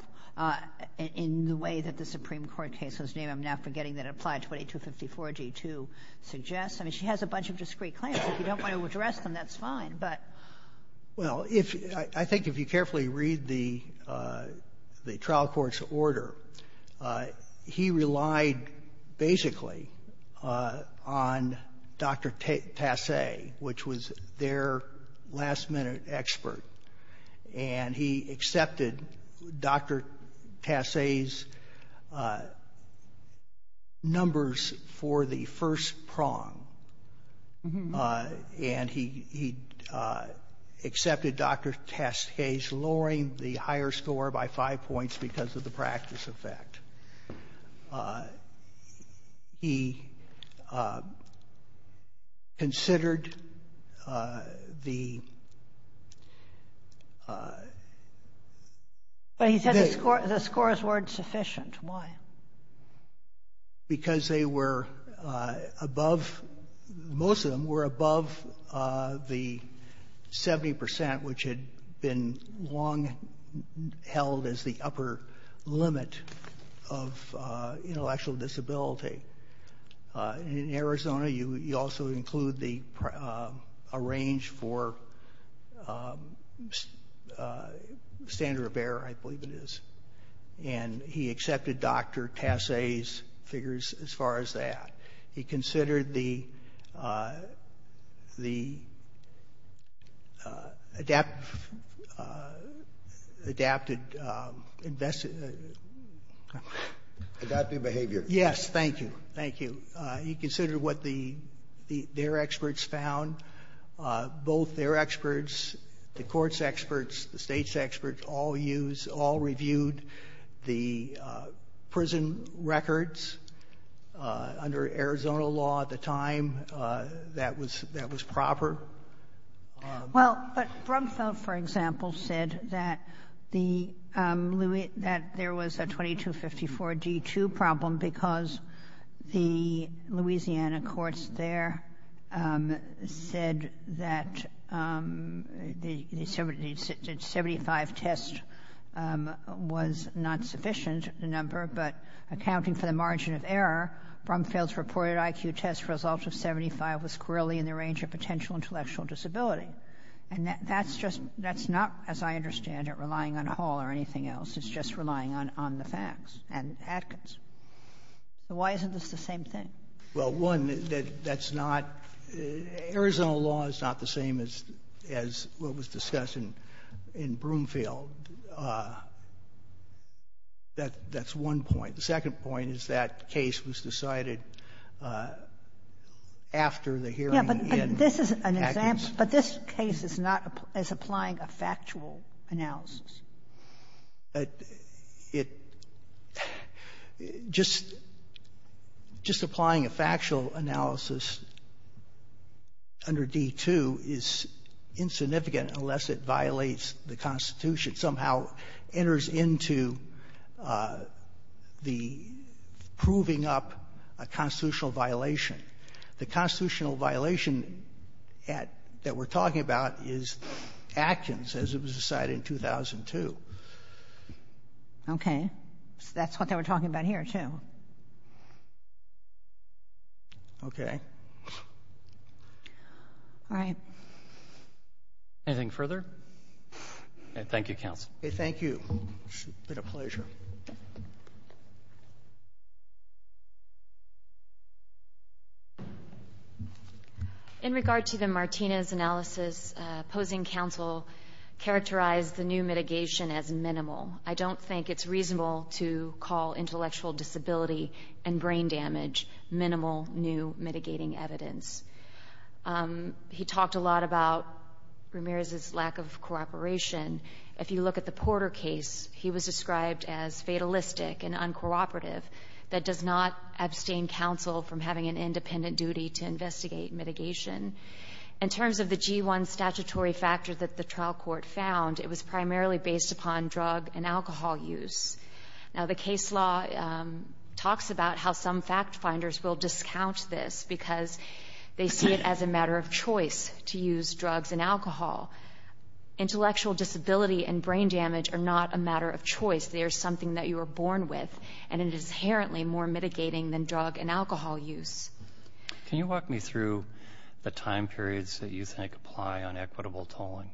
in the way that the Supreme Court case, whose name I'm now forgetting, that applied 2254-G2 suggests. I mean, she has a bunch of discreet claims. If you don't want to address them, that's fine. Well, I think if you carefully read the trial court's order, he relied basically on Dr. Tassay, which was their last-minute expert. And he accepted Dr. Tassay's numbers for the first prong. And he accepted Dr. Tassay's lowering the higher score by five points because of the practice effect. He considered the... But he said the scores weren't sufficient. Why? Because they were above, most of them were above the 70%, which had been long held as the upper limit of intellectual disability. In Arizona, you also include a range for standard of error, I believe it is. And he accepted Dr. Tassay's figures as far as that. He considered the adapted... Adaptive behavior. Yes, thank you. Thank you. He considered what their experts found. Both their experts, the court's experts, the state's experts all used, all reviewed the prison records under Arizona law at the time. That was proper. Well, but Brumfeld, for example, said that there was a 2254-G2 problem because the Louisiana courts there said that the 75 test was not sufficient, the number, but accounting for the margin of error, Brumfeld's reported IQ test results of 75 was squarely in the range of potential intellectual disability. And that's just, that's not, as I understand it, relying on Hall or anything else. It's just relying on the facts and evidence. So why isn't this the same thing? Well, one, that's not, Arizona law is not the same as what was discussed in Brumfeld. That's one point. The second point is that case was decided after the hearing. Yeah, but this is an example, but this case is not as applying a factual analysis. Just applying a factual analysis under D2 is insignificant unless it violates the Constitution, somehow enters into the proving up a constitutional violation. The constitutional violation that we're talking about is Atkins, as it was decided in 2002. Okay. That's what they were talking about here, too. Okay. All right. Anything further? Thank you, counsel. Thank you. It's been a pleasure. In regard to the Martinez analysis, opposing counsel characterized the new mitigation as minimal. I don't think it's reasonable to call intellectual disability and brain damage minimal new mitigating evidence. He talked a lot about Ramirez's lack of cooperation. If you look at the Porter case, he was described as fatalistic and uncooperative that does not abstain counsel from having an independent duty to investigate mitigation. In terms of the G1 statutory factors that the trial court found, it was primarily based upon drug and alcohol use. Now, the case law talks about how some fact finders will discount this because they see it as a matter of choice to use drugs and alcohol. Intellectual disability and brain damage are not a matter of choice. They are something that you were born with, and it is inherently more mitigating than drug and alcohol use. Can you walk me through the time periods that you think apply on equitable tolling?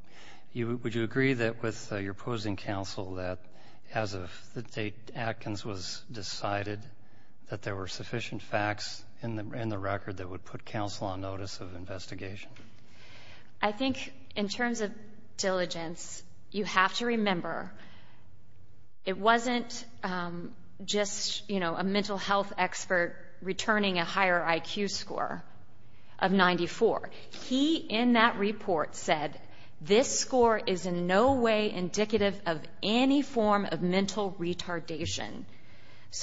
Would you agree with your opposing counsel that, as of the date Atkins was decided, that there were sufficient facts in the record that would put counsel on notice of investigation? I think, in terms of diligence, you have to remember it wasn't just a mental health expert returning a higher IQ score of 94. He, in that report, said this score is in no way indicative of any form of mental retardation.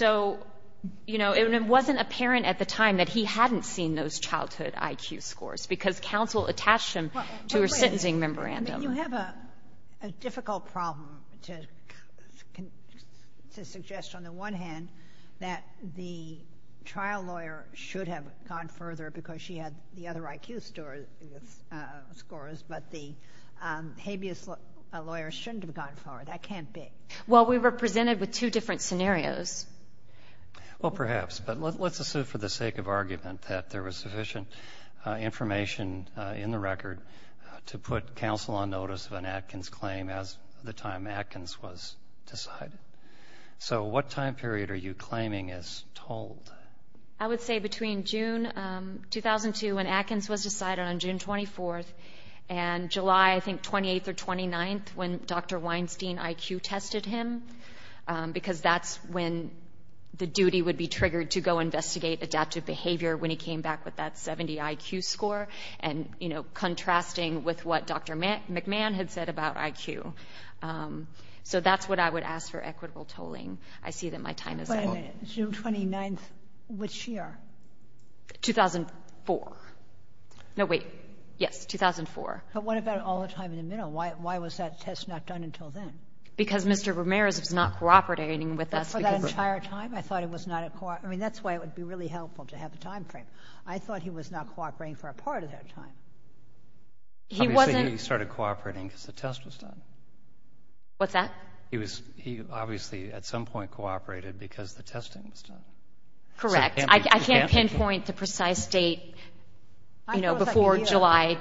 It wasn't apparent at the time that he hadn't seen those childhood IQ scores because counsel attached them to her sentencing memorandum. You have a difficult problem to suggest, on the one hand, that the trial lawyer should have gone further because she had the other IQ scores, but the habeas lawyer shouldn't have gone further. That can't be. Well, we were presented with two different scenarios. Well, perhaps. But let's assume, for the sake of argument, that there was sufficient information in the record to put counsel on notice of an Atkins claim at the time Atkins was decided. So what time period are you claiming is tolled? I would say between June 2002, when Atkins was decided, on June 24th, and July, I think, 28th or 29th, when Dr. Weinstein IQ tested him because that's when the duty would be triggered to go investigate adaptive behavior when he came back with that 70 IQ score, and contrasting with what Dr. McMahon had said about IQ. So that's what I would ask for equitable tolling. I see that my time is up. Wait a minute. June 29th, which year? 2004. No, wait. Yes, 2004. But what about all the time in the middle? Why was that test not done until then? Because Mr. Ramirez is not cooperating with us. For that entire time? I thought it was not a cooperative. I mean, that's why it would be really helpful to have a time frame. I thought he was not cooperating for a part of that time. He started cooperating because the test was done. What's that? He obviously, at some point, cooperated because the testing was done. Correct. I can't pinpoint the precise date, you know, before July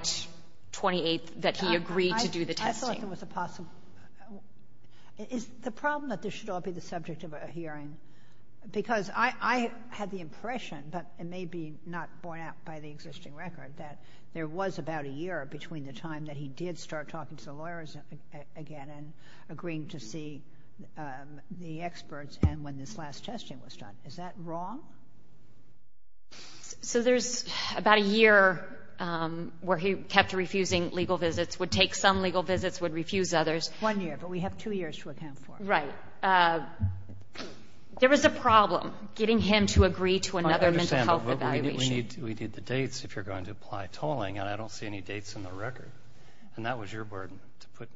28th, that he agreed to do the testing. Is the problem that this should all be the subject of a hearing? Because I had the impression, but it may be not borne out by the existing record, that there was about a year between the time that he did start talking to the lawyers again and agreeing to see the experts and when this last testing was done. Is that wrong? So there's about a year where he kept refusing legal visits, would take some legal visits, would refuse others. One year, but we have two years to attend for. Right. There is a problem getting him to agree to another mental health evaluation. I understand, but we do the dates if you're going to apply tolling, and I don't see any dates in the record. And that was your burden to put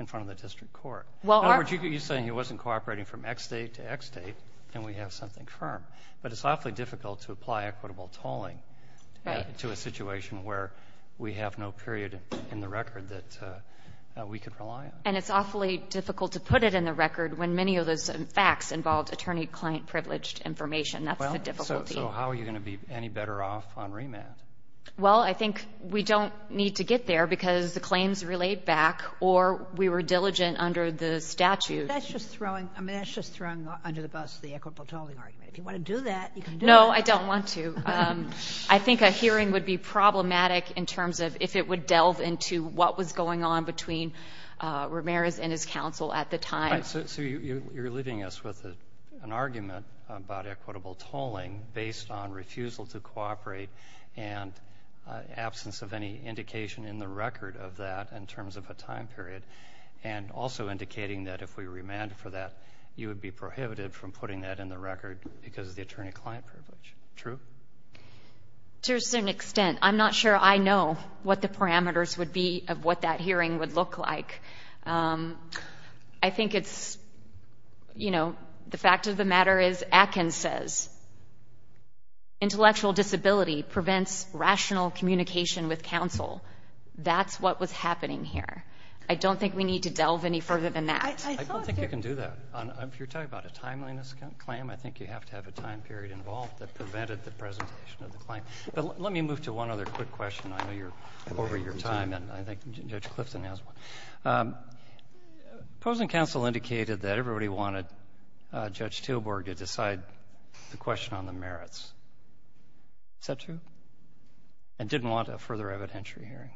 in front of the district court. You're saying he wasn't cooperating from X date to X date, and we have something firm. But it's awfully difficult to apply equitable tolling to a situation where we have no period in the record. And it's awfully difficult to put it in the record when many of the facts involve attorney-client privileged information. So how are you going to be any better off on remand? Well, I think we don't need to get there because the claims relate back, or we were diligent under the statute. That's just throwing under the bus the equitable tolling argument. If you want to do that, you can do it. No, I don't want to. I think a hearing would be problematic in terms of if it would delve into what was going on between Ramirez and his counsel at the time. So you're leaving us with an argument about equitable tolling based on refusal to cooperate and absence of any indication in the record of that in terms of a time period, and also indicating that if we remand for that, you would be prohibited from putting that in the record because of the attorney-client privilege. True? To a certain extent. I'm not sure I know what the parameters would be of what that hearing would look like. I think it's, you know, the fact of the matter is Atkins says, intellectual disability prevents rational communication with counsel. That's what was happening here. I don't think we need to delve any further than that. I don't think you can do that. If you're talking about a timeliness claim, I think you have to have a time period involved that prevented the presentation of the claim. But let me move to one other quick question. I know you're over your time, and I think Judge Clifton has one. Opposing counsel indicated that everybody wanted Judge Tilburg to decide the question on the merits. Is that true? And didn't want a further evidentiary hearing.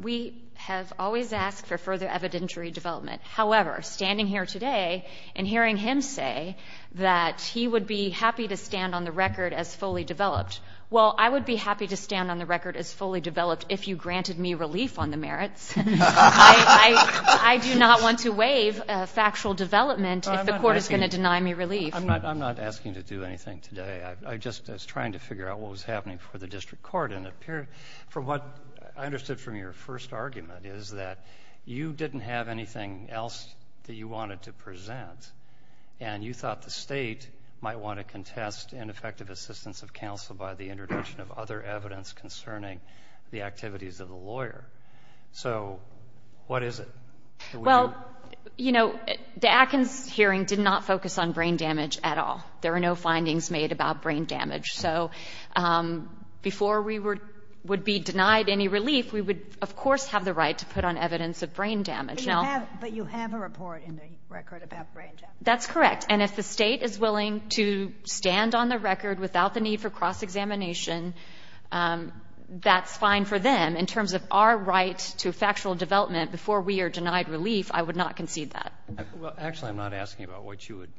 We have always asked for further evidentiary development. However, standing here today and hearing him say that he would be happy to stand on the record as fully developed, well, I would be happy to stand on the record as fully developed if you granted me relief on the merits. I do not want to waive factual development if the court is going to deny me relief. I'm not asking to do anything today. I'm just trying to figure out what was happening for the district court. And from what I understood from your first argument is that you didn't have anything else that you wanted to present, and you thought the state might want to contest ineffective assistance of counsel by the introduction of other evidence concerning the activities of the lawyer. So what is it? Well, you know, the Atkins hearing did not focus on brain damage at all. There are no findings made about brain damage. So before we would be denied any relief, we would, of course, have the right to put on evidence of brain damage. But you have a report in the record about brain damage. That's correct. And if the state is willing to stand on the record without the need for cross-examination, that's fine for them. In terms of our rights to factual development before we are denied relief, I would not concede that. Well, actually, I'm not asking about what you would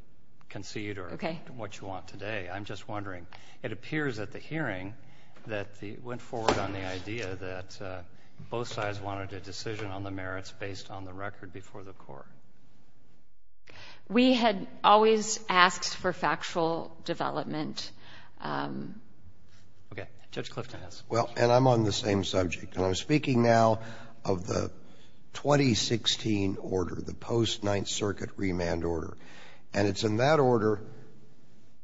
concede or what you want today. I'm just wondering, it appears at the hearing that it went forward on the idea that both sides wanted a decision on the merits based on the record before the court. We had always asked for factual development. Well, and I'm on the same subject. And I'm speaking now of the 2016 order, the post-Ninth Circuit remand order. And it's in that order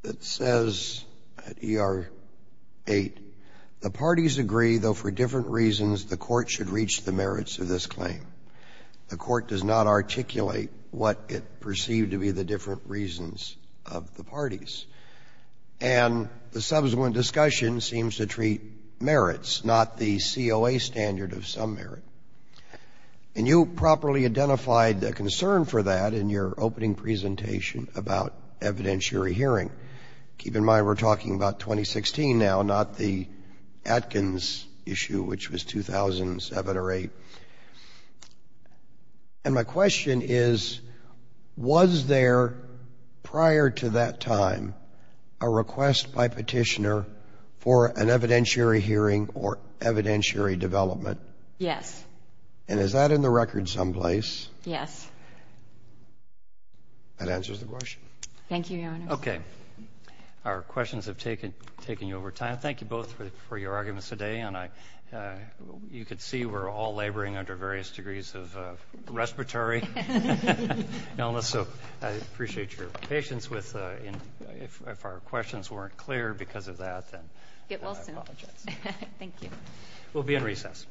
that says at ER 8, the parties agree, though for different reasons, the court should reach the merits of this claim. The court does not articulate what it perceived to be the different reasons of the parties. And the subsequent discussion seems to treat merits, not the COA standard of some merit. And you properly identified a concern for that in your opening presentation about evidentiary hearing. Keep in mind we're talking about 2016 now, not the Atkins issue, which was 2007 or 2008. And my question is, was there prior to that time a request by Petitioner for an evidentiary hearing or evidentiary development? Yes. And is that in the record someplace? Yes. That answers the question. Thank you, Your Honor. Okay. Our questions have taken you over time. Thank you both for your arguments today. You can see we're all laboring under various degrees of respiratory illness. So I appreciate your patience. If our questions weren't clear because of that, then we'll have logic. It will be. Thank you. We'll be in recess.